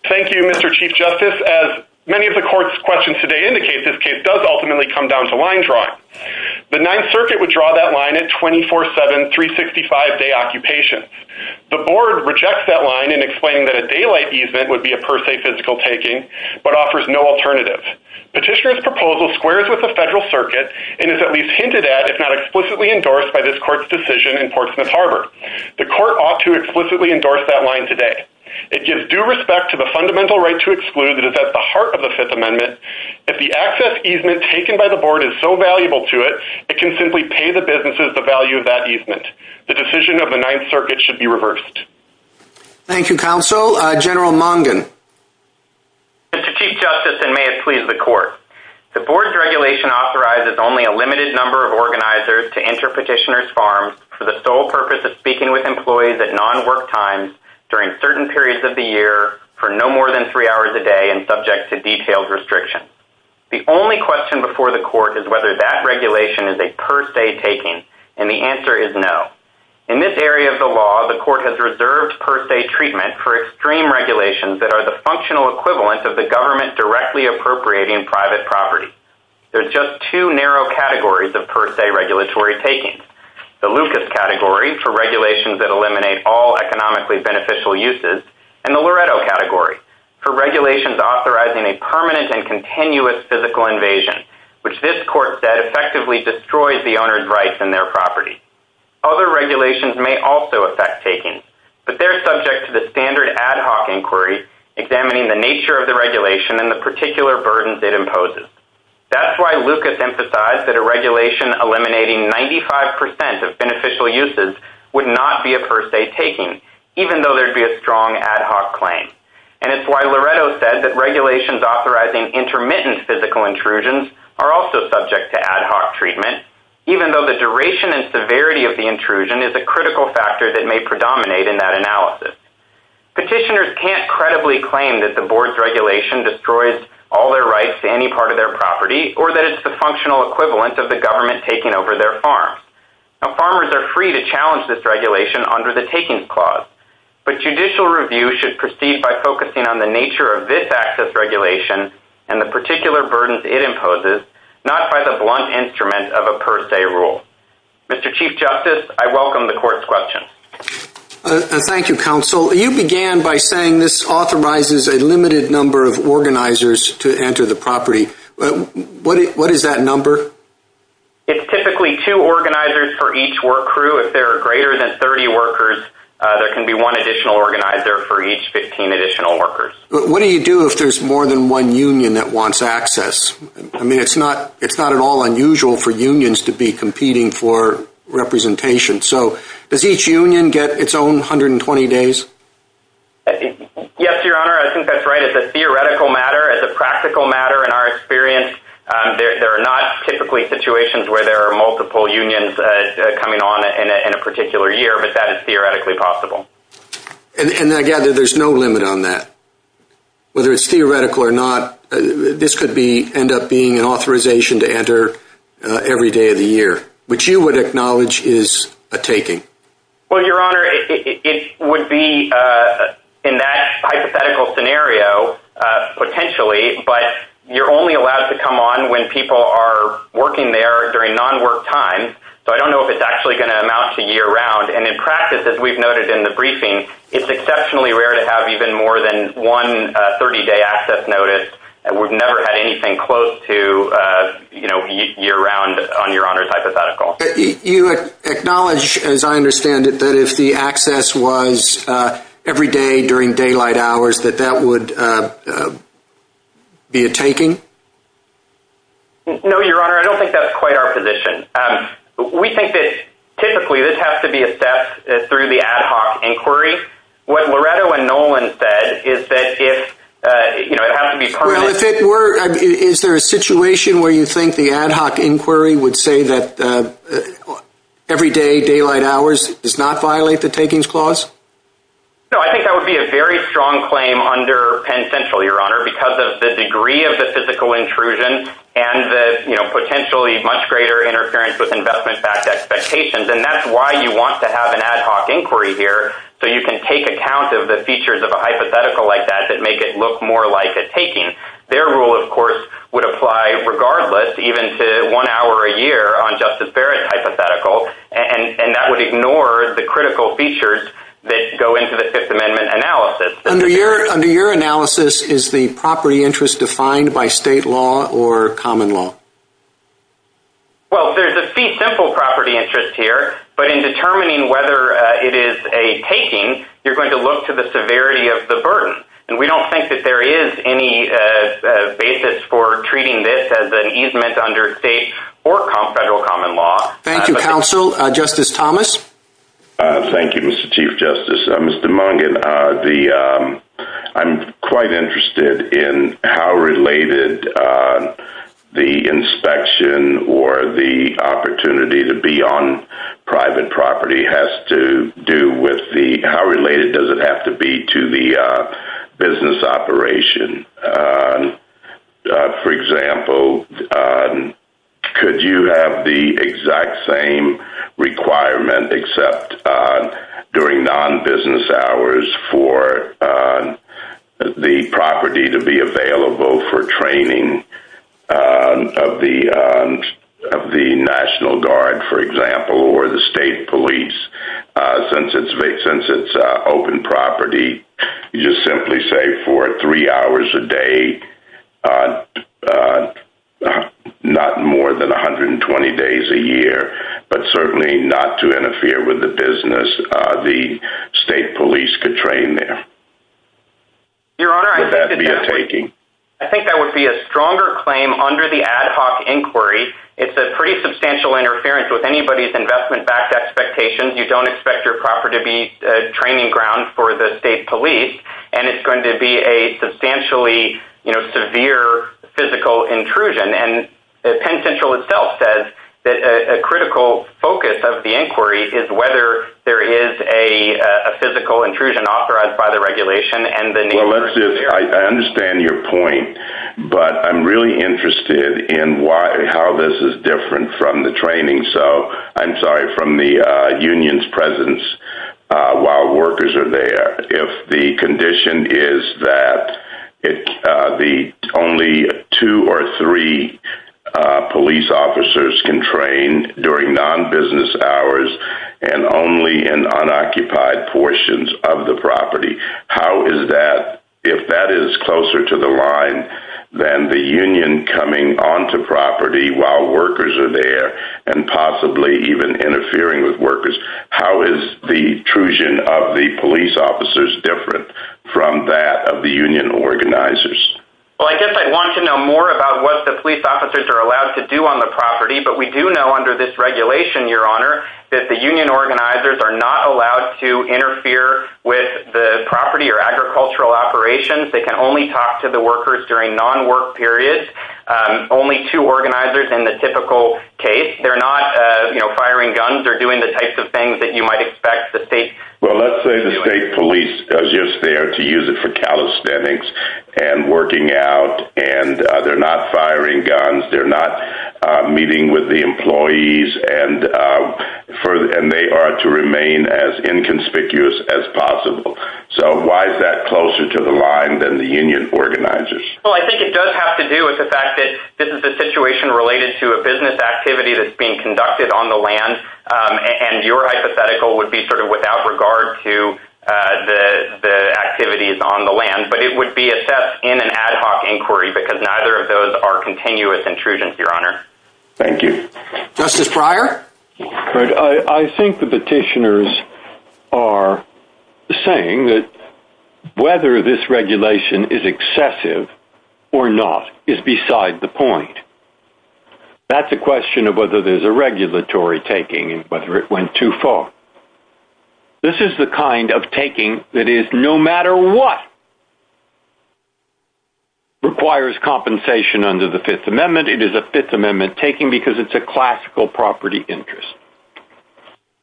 Thank you, Mr. Chief Justice. As many of the court's questions today indicate, this case does ultimately come down to line drawing. The Ninth Circuit would draw that line at 24-7, 365-day occupations. The board rejects that line in explaining that a daylight easement would be a per se physical taking, but offers no alternative. Petitioner's proposal squares with the Federal Circuit and is at least hinted at, if not explicitly endorsed by this court's decision in Portsmouth Harbor. The court ought to explicitly endorse that line today. It gives due respect to the fundamental right to exclude that is at the heart of the Fifth Amendment. If the access easement taken by the board is so valuable to it, it can simply pay the businesses the value of that easement. The decision of the Ninth Circuit should be reversed. Thank you, Counsel. General Mongan. Mr. Chief Justice, and may it please the court, the board's regulation authorizes only a limited number of organizers to enter petitioner's farms for the sole purpose of speaking with employees at non-work times during certain periods of the year for no more than three hours a day and subject to detailed restrictions. The only question before the court is whether that regulation is a per se taking, and the answer is no. In this area of the law, the court has reserved per se treatment for extreme regulations that are the functional equivalent of the government directly appropriating private property. There's just two narrow categories of per se regulatory takings, the Lucas category for regulations that eliminate all economically beneficial uses and the Loretto category for regulations authorizing a permanent and continuous physical invasion, which this court said effectively destroys the owner's rights in their property. Other regulations may also affect takings, but they're subject to the standard ad hoc inquiry examining the nature of the regulation and the particular burdens it imposes. That's why Lucas emphasized that a regulation eliminating 95% of beneficial uses would not be a per se taking, even though there'd be a strong ad hoc claim. And it's why Loretto said that regulations authorizing intermittent physical intrusions are also subject to ad hoc treatment, even though the duration and severity of the intrusion is a critical factor that may predominate in that analysis. Petitioners can't credibly claim that the board's regulation destroys all their rights to any part of their property or that it's the functional equivalent of the government taking over their farms. Farmers are free to challenge this regulation under the takings clause, but judicial review should proceed by focusing on the nature of this access regulation and the particular burdens it imposes, not by the blunt instrument of a per se rule. Mr. Chief Justice, I welcome the court's question. Thank you, Counsel. You began by saying this authorizes a limited number of organizers to enter the property. What is that number? It's typically two organizers for each work crew. If there are greater than 30 workers, there can be one additional organizer for each 15 additional workers. What do you do if there's more than one union that wants access? I mean, it's not at all unusual for unions to be competing for representation. So does each union get its own 120 days? Yes, Your Honor, I think that's right. It's a theoretical matter. It's a practical matter in our experience. There are not typically situations where there are multiple unions coming on in a particular year, but that is theoretically possible. And again, there's no limit on that. Whether it's theoretical or not, this could end up being an authorization to enter every day of the year, which you would acknowledge is a taking. Well, Your Honor, it would be in that hypothetical scenario potentially, but you're only allowed to come on when people are working there during non-work time. So I don't know if it's actually going to amount to year-round. And in practice, as we've noted in the briefing, it's exceptionally rare to have even more than one 30-day access notice. We've never had anything close to year-round on Your Honor's hypothetical. You acknowledge, as I understand it, that if the access was every day during daylight hours, that that would be a taking? No, Your Honor, I don't think that's quite our position. We think that typically this has to be assessed through the ad hoc inquiry. What Loretto and Nolan said is that if, you know, it has to be permitted. Well, if it were, is there a situation where you think the ad hoc inquiry would say that every day daylight hours does not violate the takings clause? No, I think that would be a very strong claim under Penn Central, Your Honor, because of the degree of the physical intrusion and the, you know, potentially much greater interference with investment backed expectations. And that's why you want to have an ad hoc inquiry here, so you can take account of the features of a hypothetical like that that make it look more like a taking. Their rule, of course, would apply regardless, even to one hour a year on Justice Barrett's hypothetical, and that would ignore the critical features that go into the Fifth Amendment analysis. Under your analysis, is the property interest defined by state law or common law? Well, there's a simple property interest here, but in determining whether it is a taking, you're going to look to the severity of the burden. And we don't think that there is any basis for treating this as an easement under state or federal common law. Thank you, Counsel. Justice Thomas. Thank you, Mr. Chief Justice. Mr. Mungin, I'm quite interested in how related the inspection or the opportunity to be on private property has to do with the how related does it have to be to the business operation? For example, could you have the exact same requirement, except during non-business hours, for the property to be available for training of the National Guard, for example, or the state police? Since it's open property, you just simply say for three hours a day, not more than 120 days a year, but certainly not to interfere with the business the state police could train there. Your Honor, I think that would be a stronger claim under the ad hoc inquiry. It's a pretty substantial interference with anybody's investment-backed expectations. You don't expect your property to be a training ground for the state police, and it's going to be a substantially severe physical intrusion. And Penn Central itself says that a critical focus of the inquiry is whether there is a physical intrusion authorized by the regulation. I understand your point, but I'm really interested in how this is different from the unions' presence while workers are there. If the condition is that only two or three police officers can train during non-business hours and only in unoccupied portions of the property, if that is closer to the line than the union coming onto property while workers are there and possibly even interfering with workers, how is the intrusion of the police officers different from that of the union organizers? Well, I guess I'd want to know more about what the police officers are allowed to do on the property, but we do know under this regulation, Your Honor, that the union organizers are not allowed to interfere with the property or agricultural operations. They can only talk to the workers during non-work periods, only two organizers in the typical case. They're not, you know, firing guns or doing the types of things that you might expect the state… Well, let's say the state police are just there to use it for calisthenics and working out, and they're not firing guns, they're not meeting with the employees, and they are to remain as inconspicuous as possible. So why is that closer to the line than the union organizers? Well, I think it does have to do with the fact that this is a situation related to a business activity that's being conducted on the land, and your hypothetical would be sort of without regard to the activities on the land, but it would be assessed in an ad hoc inquiry because neither of those are continuous intrusions, Your Honor. Thank you. Justice Breyer? I think the petitioners are saying that whether this regulation is excessive or not is beside the point. That's a question of whether there's a regulatory taking and whether it went too far. This is the kind of taking that is no matter what requires compensation under the Fifth Amendment. It is a Fifth Amendment taking because it's a classical property interest.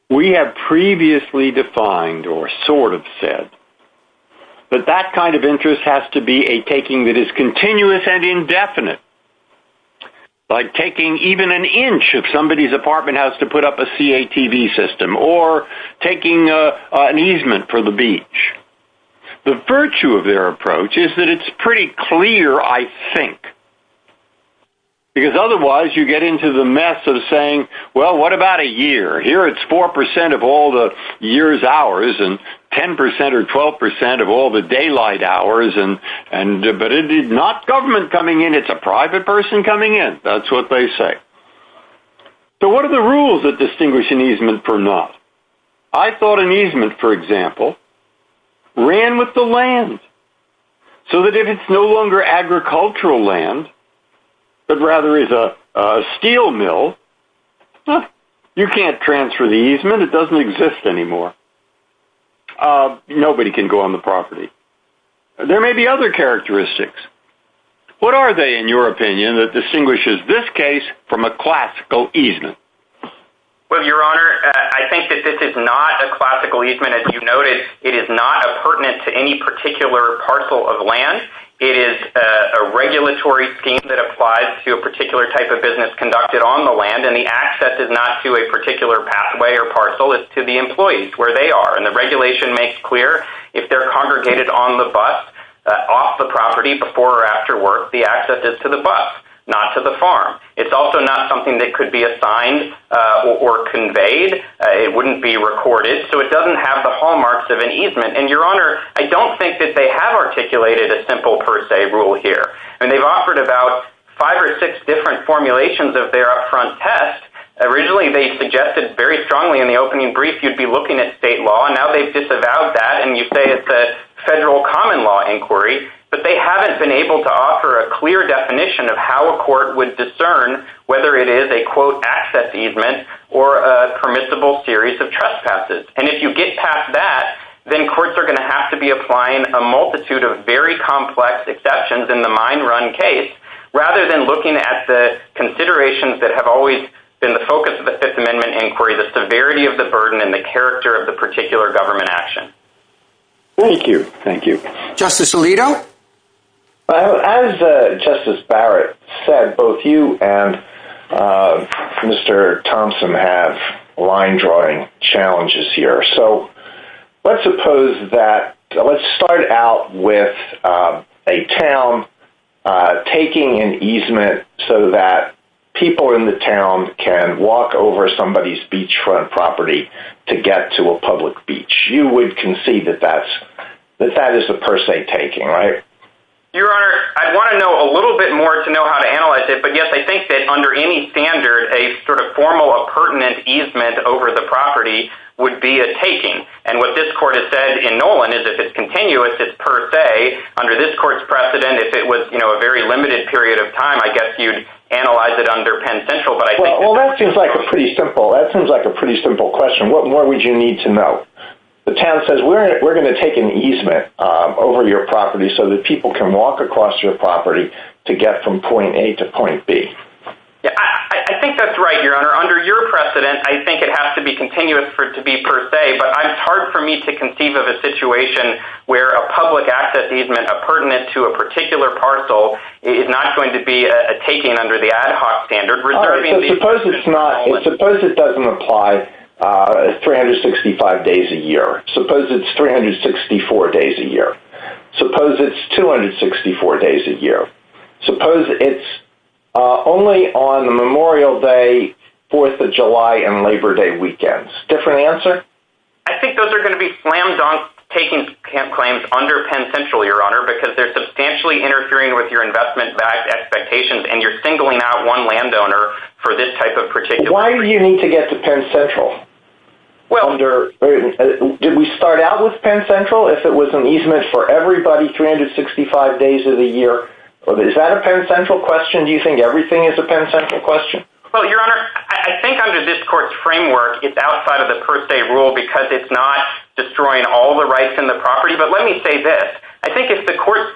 We have previously defined or sort of said that that kind of interest has to be a taking that is continuous and indefinite, like taking even an inch if somebody's apartment has to put up a CATV system or taking an easement for the beach. The virtue of their approach is that it's pretty clear, I think, because otherwise you get into the mess of saying, well, what about a year? Here it's 4% of all the year's hours and 10% or 12% of all the daylight hours, but it is not government coming in. It's a private person coming in. That's what they say. So what are the rules that distinguish an easement from not? I thought an easement, for example, ran with the land so that if it's no longer agricultural land, but rather is a steel mill, you can't transfer the easement. It doesn't exist anymore. Nobody can go on the property. There may be other characteristics. What are they, in your opinion, that distinguishes this case from a classical easement? Well, Your Honor, I think that this is not a classical easement. As you noted, it is not pertinent to any particular parcel of land. It is a regulatory scheme that applies to a particular type of business conducted on the land, and the access is not to a particular pathway or parcel. It's to the employees where they are. And the regulation makes clear if they're congregated on the bus, off the property, before or after work, the access is to the bus, not to the farm. It's also not something that could be assigned or conveyed. It wouldn't be recorded. So it doesn't have the hallmarks of an easement. And, Your Honor, I don't think that they have articulated a simple per se rule here. And they've offered about five or six different formulations of their upfront test. Originally, they suggested very strongly in the opening brief you'd be looking at state law. Now they've disavowed that, and you say it's a federal common law inquiry. But they haven't been able to offer a clear definition of how a court would discern whether it is a, quote, access easement or a permissible series of trespasses. And if you get past that, then courts are going to have to be applying a multitude of very complex exceptions in the mine run case, rather than looking at the considerations that have always been the focus of the Fifth Amendment inquiry, the severity of the burden and the character of the particular government action. Thank you. Thank you. Justice Alito? As Justice Barrett said, both you and Mr. Thompson have line-drawing challenges here. So let's start out with a town taking an easement so that people in the town can walk over somebody's beachfront property to get to a public beach. You would concede that that is a per se taking, right? Your Honor, I'd want to know a little bit more to know how to analyze it. But, yes, I think that under any standard, a sort of formal or pertinent easement over the property would be a taking. And what this court has said in Nolan is if it's continuous, it's per se. Under this court's precedent, if it was a very limited period of time, I guess you'd analyze it under Penn Central. Well, that seems like a pretty simple question. What more would you need to know? The town says we're going to take an easement over your property so that people can walk across your property to get from point A to point B. I think that's right, Your Honor. Under your precedent, I think it has to be continuous for it to be per se. But it's hard for me to conceive of a situation where a public access easement pertinent to a particular parcel is not going to be a taking under the ad hoc standard. Suppose it doesn't apply 365 days a year. Suppose it's 364 days a year. Suppose it's 264 days a year. Suppose it's only on Memorial Day, Fourth of July, and Labor Day weekends. Different answer? I think those are going to be slam dunk taking claims under Penn Central, Your Honor, because they're substantially interfering with your investment expectations and you're singling out one landowner for this type of particular claim. Why do you need to get to Penn Central? Did we start out with Penn Central if it was an easement for everybody 365 days of the year? Is that a Penn Central question? Do you think everything is a Penn Central question? Well, Your Honor, I think under this Court's framework, it's outside of the per se rule because it's not destroying all the rights in the property. But let me say this. I think if the Court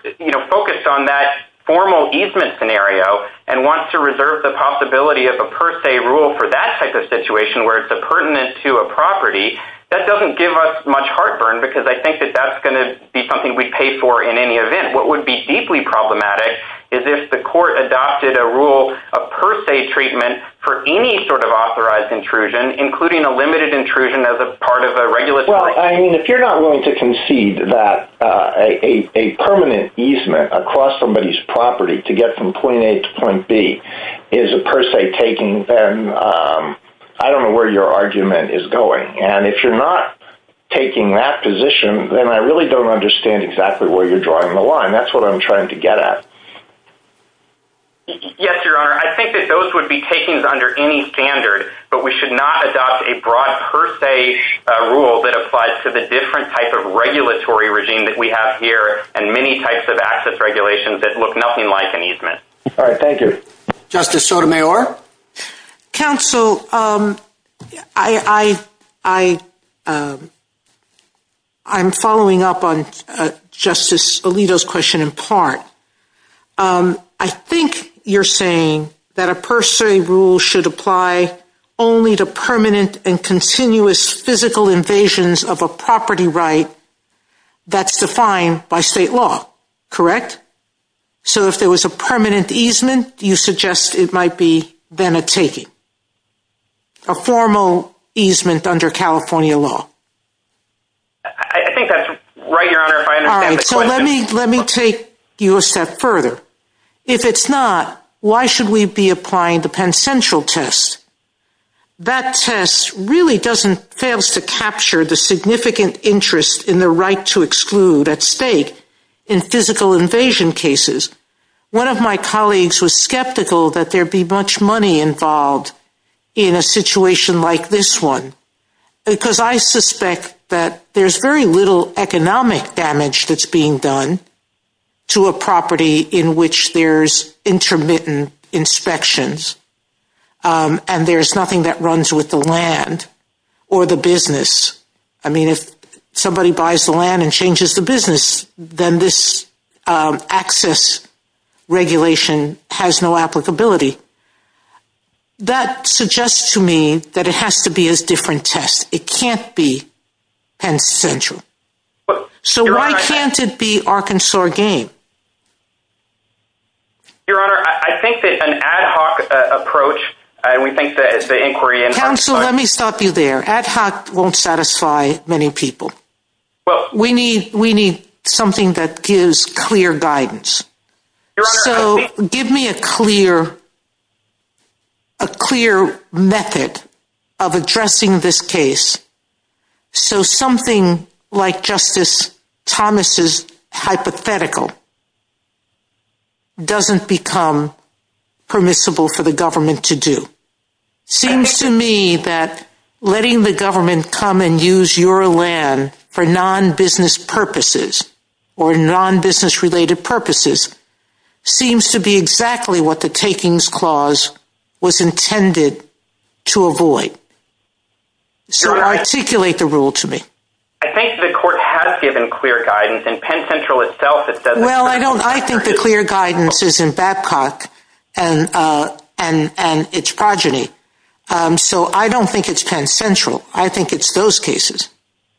focused on that formal easement scenario and wants to reserve the possibility of a per se rule for that type of situation where it's pertinent to a property, that doesn't give us much heartburn because I think that that's going to be something we'd pay for in any event. What would be deeply problematic is if the Court adopted a rule of per se treatment for any sort of authorized intrusion, including a limited intrusion as a part of a regular claim. Well, I mean, if you're not willing to concede that a permanent easement across somebody's property to get from point A to point B is a per se taking, then I don't know where your argument is going. And if you're not taking that position, then I really don't understand exactly where you're drawing the line. That's what I'm trying to get at. Yes, Your Honor, I think that those would be takings under any standard, but we should not adopt a broad per se rule that applies to the different type of regulatory regime that we have here and many types of access regulations that look nothing like an easement. All right, thank you. Justice Sotomayor? Counsel, I'm following up on Justice Alito's question in part. I think you're saying that a per se rule should apply only to permanent and continuous physical invasions of a property right that's defined by state law, correct? So if there was a permanent easement, you suggest it might be then a taking, a formal easement under California law? I think that's right, Your Honor, if I understand the question. All right, so let me take you a step further. If it's not, why should we be applying the Penn Central test? That test really doesn't, fails to capture the significant interest in the right to exclude at stake in physical invasion cases. One of my colleagues was skeptical that there'd be much money involved in a situation like this one because I suspect that there's very little economic damage that's being done to a property in which there's intermittent inspections. And there's nothing that runs with the land or the business. I mean, if somebody buys the land and changes the business, then this access regulation has no applicability. That suggests to me that it has to be a different test. It can't be Penn Central. So why can't it be Arkansas Game? Your Honor, I think that an ad hoc approach, and we think that it's the inquiry. Counsel, let me stop you there. Ad hoc won't satisfy many people. Well, we need we need something that gives clear guidance. So give me a clear, a clear method of addressing this case. So something like Justice Thomas's hypothetical doesn't become permissible for the government to do. Seems to me that letting the government come and use your land for non-business purposes or non-business related purposes seems to be exactly what the takings clause was intended to avoid. So articulate the rule to me. I think the court has given clear guidance and Penn Central itself. Well, I don't I think the clear guidance is in Babcock and and and its progeny. So I don't think it's Penn Central. I think it's those cases.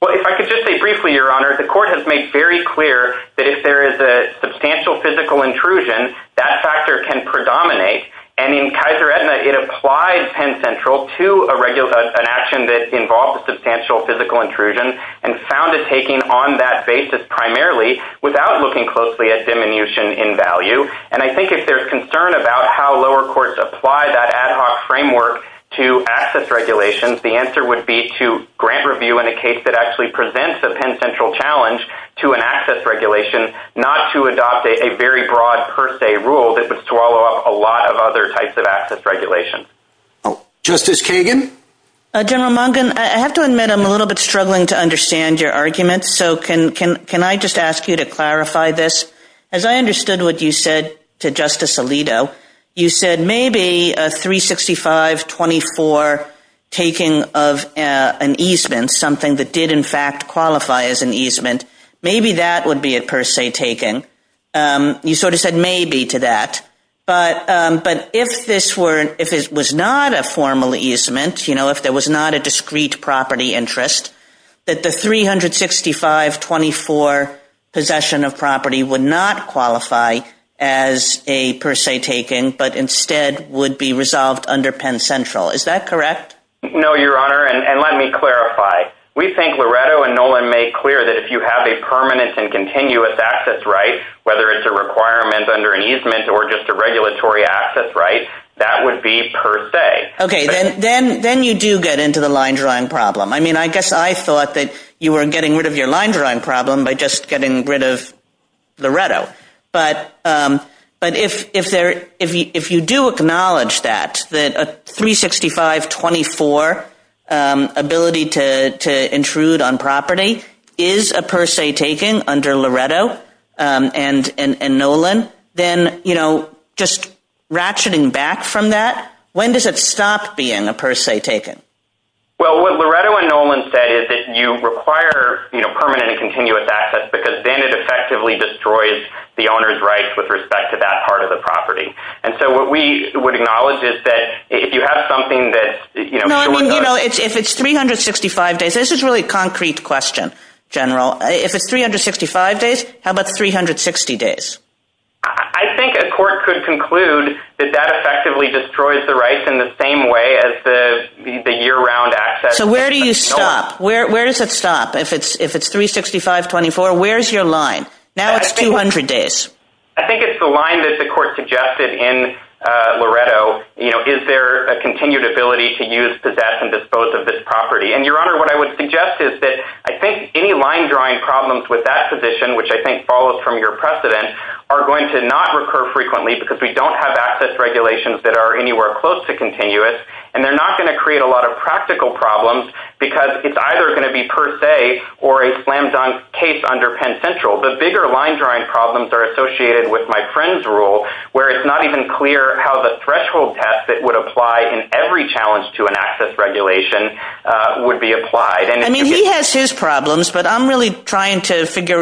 Well, if I could just say briefly, Your Honor, the court has made very clear that if there is a substantial physical intrusion, that factor can predominate. And in Kaiser Edna, it applies Penn Central to a regular an action that involves substantial physical intrusion and found a taking on that basis primarily without looking closely at diminution in value. And I think if there's concern about how lower courts apply that ad hoc framework to access regulations, the answer would be to grant review in a case that actually presents a Penn Central challenge to an access regulation, not to adopt a very broad per se rule that would swallow up a lot of other types of access regulations. Justice Kagan. General Mungin, I have to admit I'm a little bit struggling to understand your argument. So can can can I just ask you to clarify this? As I understood what you said to Justice Alito, you said maybe a 365-24 taking of an easement, something that did in fact qualify as an easement, maybe that would be a per se taking. You sort of said maybe to that. But if this were if it was not a formal easement, you know, if there was not a discrete property interest, that the 365-24 possession of property would not qualify as a per se taking, but instead would be resolved under Penn Central. Is that correct? No, Your Honor. And let me clarify. We think Loretto and Nolan made clear that if you have a permanent and continuous access right, whether it's a requirement under an easement or just a regulatory access right, that would be per se. Okay. Then you do get into the line drawing problem. I mean, I guess I thought that you were getting rid of your line drawing problem by just getting rid of Loretto. But if you do acknowledge that, that a 365-24 ability to intrude on property is a per se taking under Loretto and Nolan, then, you know, just ratcheting back from that, when does it stop being a per se taking? Well, what Loretto and Nolan said is that you require, you know, permanent and continuous access because then it effectively destroys the owner's rights with respect to that part of the property. And so what we would acknowledge is that if you have something that, you know, No, I mean, you know, if it's 365 days, this is really a concrete question, General. If it's 365 days, how about 360 days? I think a court could conclude that that effectively destroys the rights in the same way as the year-round access. So where do you stop? Where does it stop? If it's 365-24, where's your line? Now it's 200 days. I think it's the line that the court suggested in Loretto, you know, is there a continued ability to use, possess, and dispose of this property? And, Your Honor, what I would suggest is that I think any line drawing problems with that position, which I think follows from your precedent, are going to not recur frequently because we don't have access regulations that are anywhere close to continuous. And they're not going to create a lot of practical problems because it's either going to be per se or a slam dunk case under Penn Central. The bigger line drawing problems are associated with my friend's rule where it's not even clear how the threshold test that would apply in every challenge to an access regulation would be applied. I mean, he has his problems, but I'm really trying to figure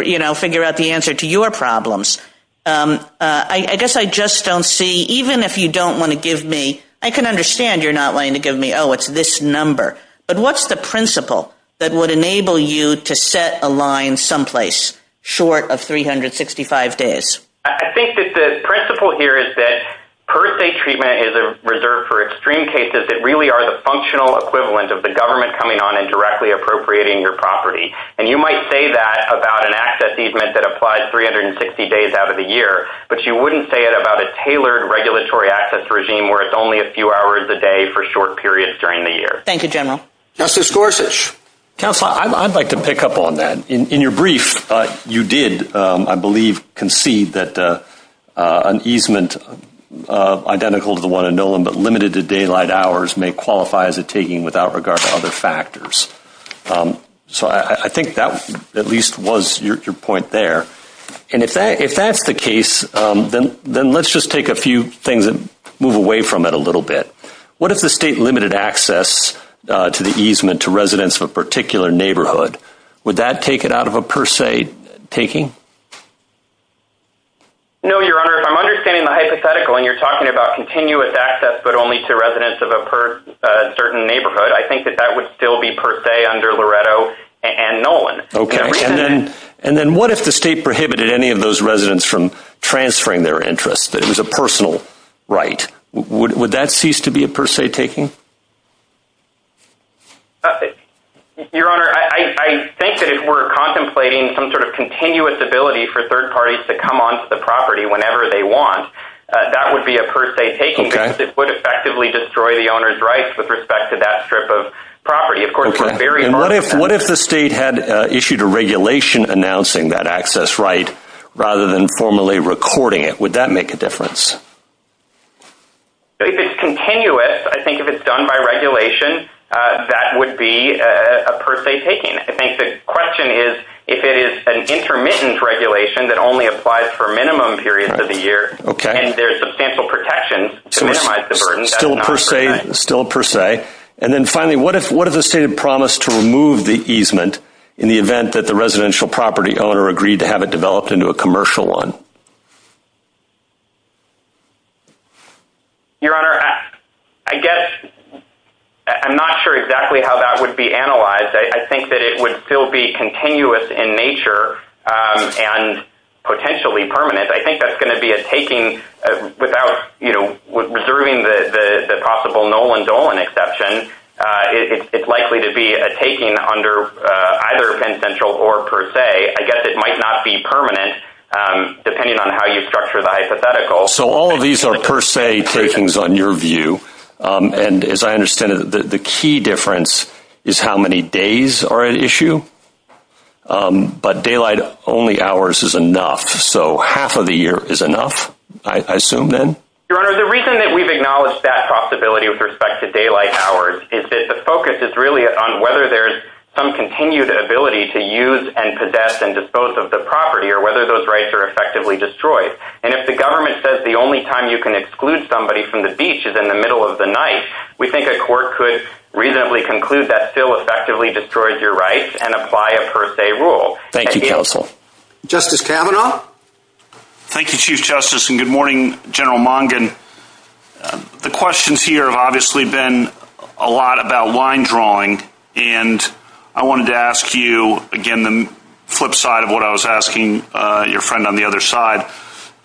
out the answer to your problems. I guess I just don't see, even if you don't want to give me, I can understand you're not willing to give me, oh, it's this number, but what's the principle that would enable you to set a line someplace short of 365 days? I think that the principle here is that per se treatment is reserved for extreme cases that really are the functional equivalent of the government coming on and directly appropriating your property. And you might say that about an access easement that applies 360 days out of the year, but you wouldn't say it about a tailored regulatory access regime where it's only a few hours a day for short periods during the year. Thank you, General. Justice Gorsuch. Counselor, I'd like to pick up on that. In your brief, you did, I believe, concede that an easement identical to the one in Nolan but limited to daylight hours may qualify as a taking without regard to other factors. So I think that at least was your point there. And if that's the case, then let's just take a few things and move away from it a little bit. What if the state limited access to the easement to residents of a particular neighborhood? Would that take it out of a per se taking? No, Your Honor. If I'm understanding the hypothetical and you're talking about continuous access but only to residents of a certain neighborhood, I think that that would still be per se under Loretto and Nolan. Okay. And then what if the state prohibited any of those residents from transferring their interests, that it was a personal right? Would that cease to be a per se taking? Your Honor, I think that if we're contemplating some sort of continuous ability for third parties to come onto the property whenever they want, that would be a per se taking because it would effectively destroy the owner's rights with respect to that strip of property. Of course, we're very… And what if the state had issued a regulation announcing that access right rather than formally recording it? Would that make a difference? If it's continuous, I think if it's done by regulation, that would be a per se taking. I think the question is if it is an intermittent regulation that only applies for minimum periods of the year and there's substantial protection to minimize the burden, that's not a per se. Still a per se. And then finally, what if the state had promised to remove the easement in the event that the residential property owner agreed to have it developed into a commercial one? Your Honor, I guess I'm not sure exactly how that would be analyzed. I think that it would still be continuous in nature and potentially permanent. I think that's going to be a taking without, you know, reserving the possible Nolan Dolan exception. It's likely to be a taking under either Penn Central or per se. I guess it might not be permanent depending on how you structure the hypothetical. So all of these are per se takings on your view. And as I understand it, the key difference is how many days are at issue. But daylight only hours is enough, so half of the year is enough, I assume then? Your Honor, the reason that we've acknowledged that possibility with respect to daylight hours is that the focus is really on whether there's some continued ability to use and possess and dispose of the property or whether those rights are effectively destroyed. And if the government says the only time you can exclude somebody from the beach is in the middle of the night, we think a court could reasonably conclude that still effectively destroys your rights and apply a per se rule. Thank you, counsel. Justice Kavanaugh? Thank you, Chief Justice, and good morning, General Mongin. The questions here have obviously been a lot about line drawing, and I wanted to ask you, again, the flip side of what I was asking your friend on the other side.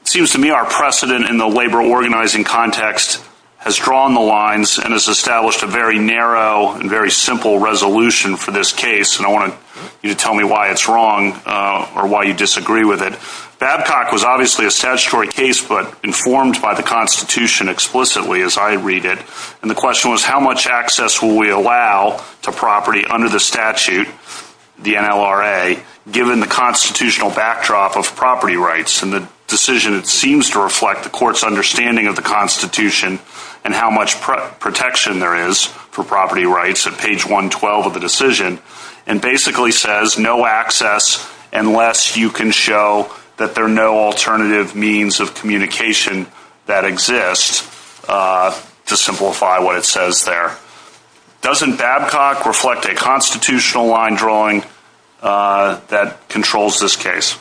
It seems to me our precedent in the labor organizing context has drawn the lines and has established a very narrow and very simple resolution for this case, and I want you to tell me why it's wrong or why you disagree with it. Babcock was obviously a statutory case but informed by the Constitution explicitly, as I read it, and the question was how much access will we allow to property under the statute, the NLRA, given the constitutional backdrop of property rights and the decision that seems to reflect the court's understanding of the Constitution and how much protection there is for property rights at page 112 of the decision, and basically says no access unless you can show that there are no alternative means of communication that exist to simplify what it says there. Doesn't Babcock reflect a constitutional line drawing that controls this case?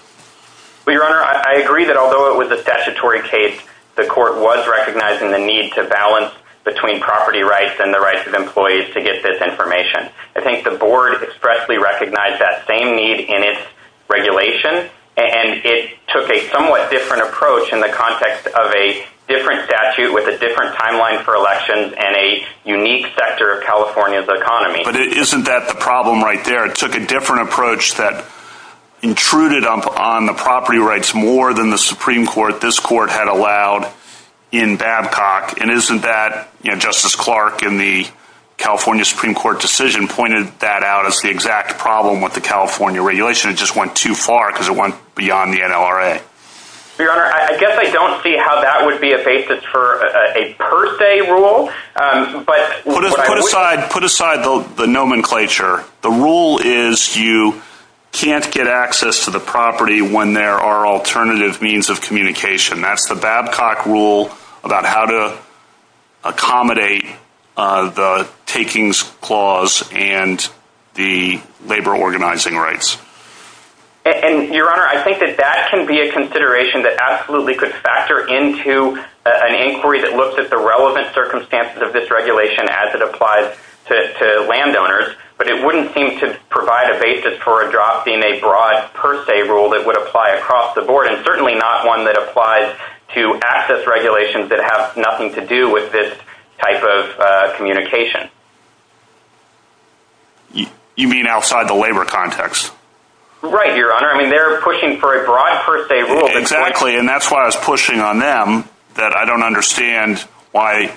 Well, Your Honor, I agree that although it was a statutory case, the court was recognizing the need to balance between property rights and the rights of employees to get this information. I think the board expressly recognized that same need in its regulation, and it took a somewhat different approach in the context of a different statute with a different timeline for elections and a unique sector of California's economy. But isn't that the problem right there? It took a different approach that intruded upon the property rights more than the Supreme Court, this court, had allowed in Babcock, and isn't that, Justice Clark, in the California Supreme Court decision, pointed that out as the exact problem with the California regulation? It just went too far because it went beyond the NLRA. Your Honor, I guess I don't see how that would be a basis for a per se rule. Put aside the nomenclature. The rule is you can't get access to the property when there are alternative means of communication. That's the Babcock rule about how to accommodate the takings clause and the labor organizing rights. Your Honor, I think that that can be a consideration that absolutely could factor into an inquiry that looks at the relevant circumstances of this regulation as it applies to landowners, but it wouldn't seem to provide a basis for a drop in a broad per se rule that would apply across the board, and certainly not one that applies to access regulations that have nothing to do with this type of communication. You mean outside the labor context? Right, Your Honor. I mean they're pushing for a broad per se rule. Exactly, and that's why I was pushing on them that I don't understand why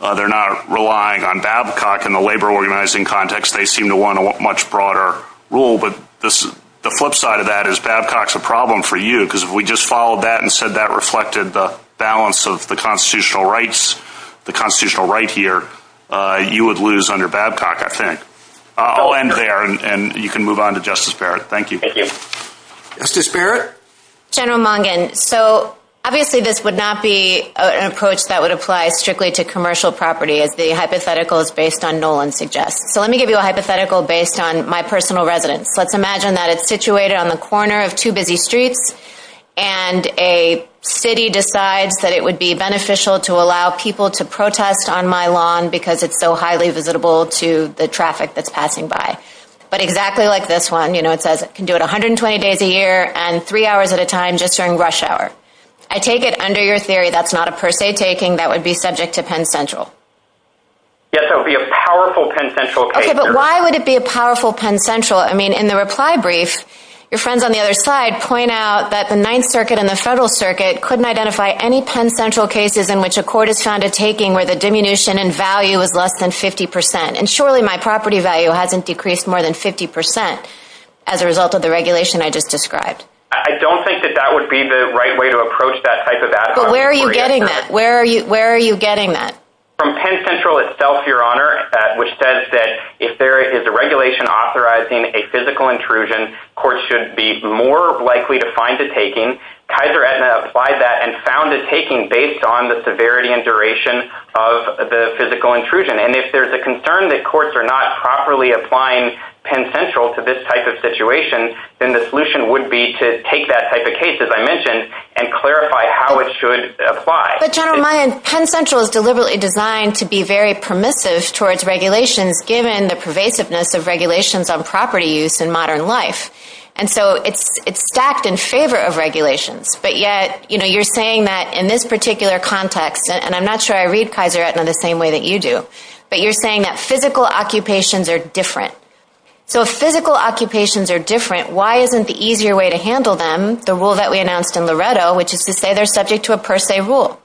they're not relying on Babcock in the labor organizing context. They seem to want a much broader rule, but the flip side of that is Babcock's a problem for you because if we just followed that and said that reflected the balance of the constitutional rights, the constitutional right here, you would lose under Babcock, I think. I'll end there, and you can move on to Justice Barrett. Thank you. Thank you. Justice Barrett? General Mungin, so obviously this would not be an approach that would apply strictly to commercial property as the hypothetical is based on Nolan suggests. So let me give you a hypothetical based on my personal residence. Let's imagine that it's situated on the corner of two busy streets, and a city decides that it would be beneficial to allow people to protest on my lawn because it's so highly visitable to the traffic that's passing by. But exactly like this one, you know, it says it can do it 120 days a year and three hours at a time just during rush hour. I take it under your theory that's not a per se taking that would be subject to Penn Central. Yes, that would be a powerful Penn Central case. Okay, but why would it be a powerful Penn Central? I mean, in the reply brief, your friends on the other side point out that the Ninth Circuit and the Federal Circuit couldn't identify any Penn Central cases in which a court has found a taking where the diminution in value is less than 50%. And surely my property value hasn't decreased more than 50% as a result of the regulation I just described. I don't think that that would be the right way to approach that type of ad hoc inquiry. But where are you getting that? Where are you getting that? From Penn Central itself, Your Honor, which says that if there is a regulation authorizing a physical intrusion, courts should be more likely to find a taking. Kaiser Aetna applied that and found a taking based on the severity and duration of the physical intrusion. And if there's a concern that courts are not properly applying Penn Central to this type of situation, then the solution would be to take that type of case, as I mentioned, and clarify how it should apply. But General Mayen, Penn Central is deliberately designed to be very permissive towards regulations given the pervasiveness of regulations on property use in modern life. And so it's stacked in favor of regulations. But yet, you know, you're saying that in this particular context, and I'm not sure I read Kaiser Aetna the same way that you do, but you're saying that physical occupations are different. So if physical occupations are different, why isn't the easier way to handle them, the rule that we announced in Loretto, which is to say they're subject to a per se rule?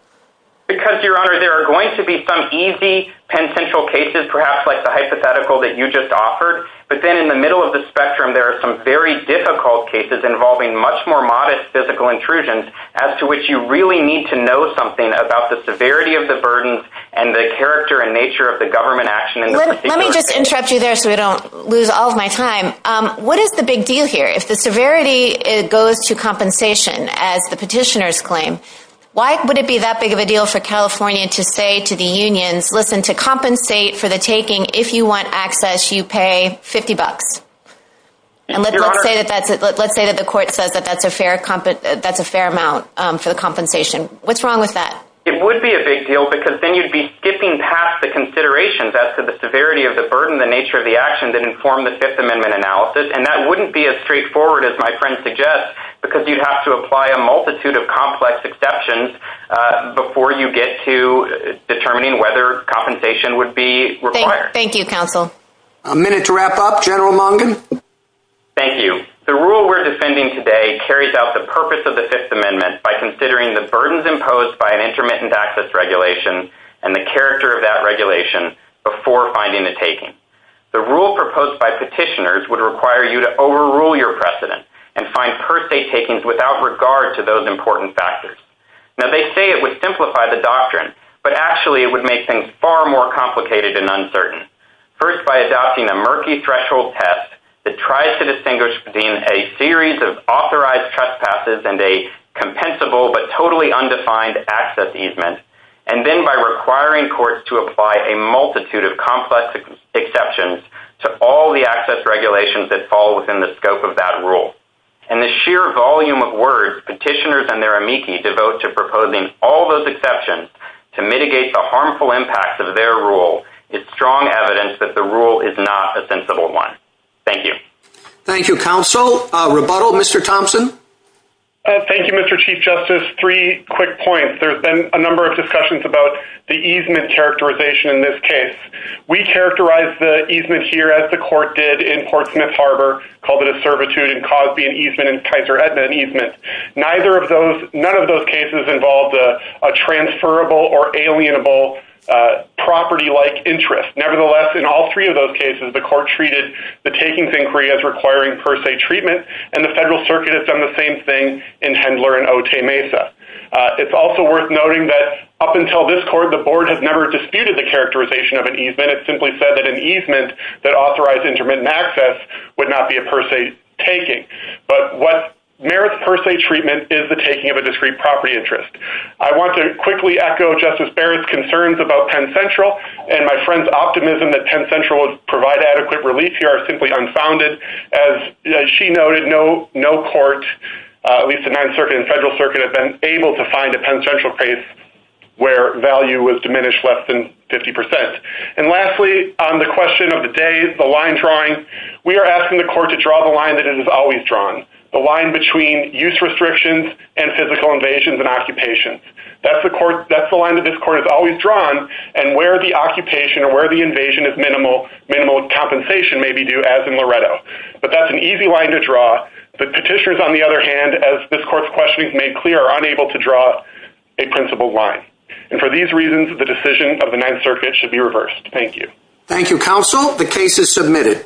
Because, Your Honor, there are going to be some easy Penn Central cases, perhaps like the hypothetical that you just offered, but then in the middle of the spectrum there are some very difficult cases involving much more modest physical intrusions, as to which you really need to know something about the severity of the burden and the character and nature of the government action in the particular case. Let me just interrupt you there so I don't lose all of my time. What is the big deal here? If the severity goes to compensation, as the petitioners claim, why would it be that big of a deal for California to say to the unions, listen, to compensate for the taking, if you want access, you pay 50 bucks? And let's say that the court says that that's a fair amount for the compensation. What's wrong with that? It would be a big deal because then you'd be skipping past the considerations as to the severity of the burden and the nature of the action that inform the Fifth Amendment analysis, and that wouldn't be as straightforward as my friend suggests because you'd have to apply a multitude of complex exceptions before you get to determining whether compensation would be required. Thank you, counsel. A minute to wrap up. General Mungin? Thank you. The rule we're defending today carries out the purpose of the Fifth Amendment by considering the burdens imposed by an intermittent access regulation and the character of that regulation before finding the taking. The rule proposed by petitioners would require you to overrule your precedent and find per se takings without regard to those important factors. Now, they say it would simplify the doctrine, but actually it would make things far more complicated and uncertain, first by adopting a murky threshold test that tries to distinguish between a series of authorized trespasses and a compensable but totally undefined access easement, and then by requiring courts to apply a multitude of complex exceptions to all the access regulations that fall within the scope of that rule. And the sheer volume of words petitioners and their amici devote to proposing all those exceptions to mitigate the harmful impacts of their rule is strong evidence that the rule is not a sensible one. Thank you. Thank you, counsel. Rebuttal, Mr. Thompson? Thank you, Mr. Chief Justice. Just three quick points. There's been a number of discussions about the easement characterization in this case. We characterize the easement here as the court did in Portsmouth Harbor, called it a servitude and Cosby an easement and Kaiser Etna an easement. None of those cases involved a transferable or alienable property-like interest. Nevertheless, in all three of those cases, the court treated the takings inquiry as requiring per se treatment, and the Federal Circuit has done the same thing in Hendler and Otay Mesa. It's also worth noting that up until this court, the board has never disputed the characterization of an easement. It simply said that an easement that authorized intermittent access would not be a per se taking. But what merits per se treatment is the taking of a discrete property interest. I want to quickly echo Justice Barrett's concerns about Penn Central and my friend's optimism that Penn Central would provide adequate relief here if it were simply unfounded. As she noted, no court, at least the Ninth Circuit and Federal Circuit, have been able to find a Penn Central case where value was diminished less than 50%. Lastly, on the question of the days, the line drawing, we are asking the court to draw the line that it has always drawn, the line between use restrictions and physical invasions and occupations. That's the line that this court has always drawn, and where the occupation or where the invasion of minimal compensation may be due, as in Loretto. But that's an easy line to draw. Petitioners, on the other hand, as this court's questioning has made clear, are unable to draw a principled line. For these reasons, the decision of the Ninth Circuit should be reversed. Thank you. Thank you, counsel. The case is submitted.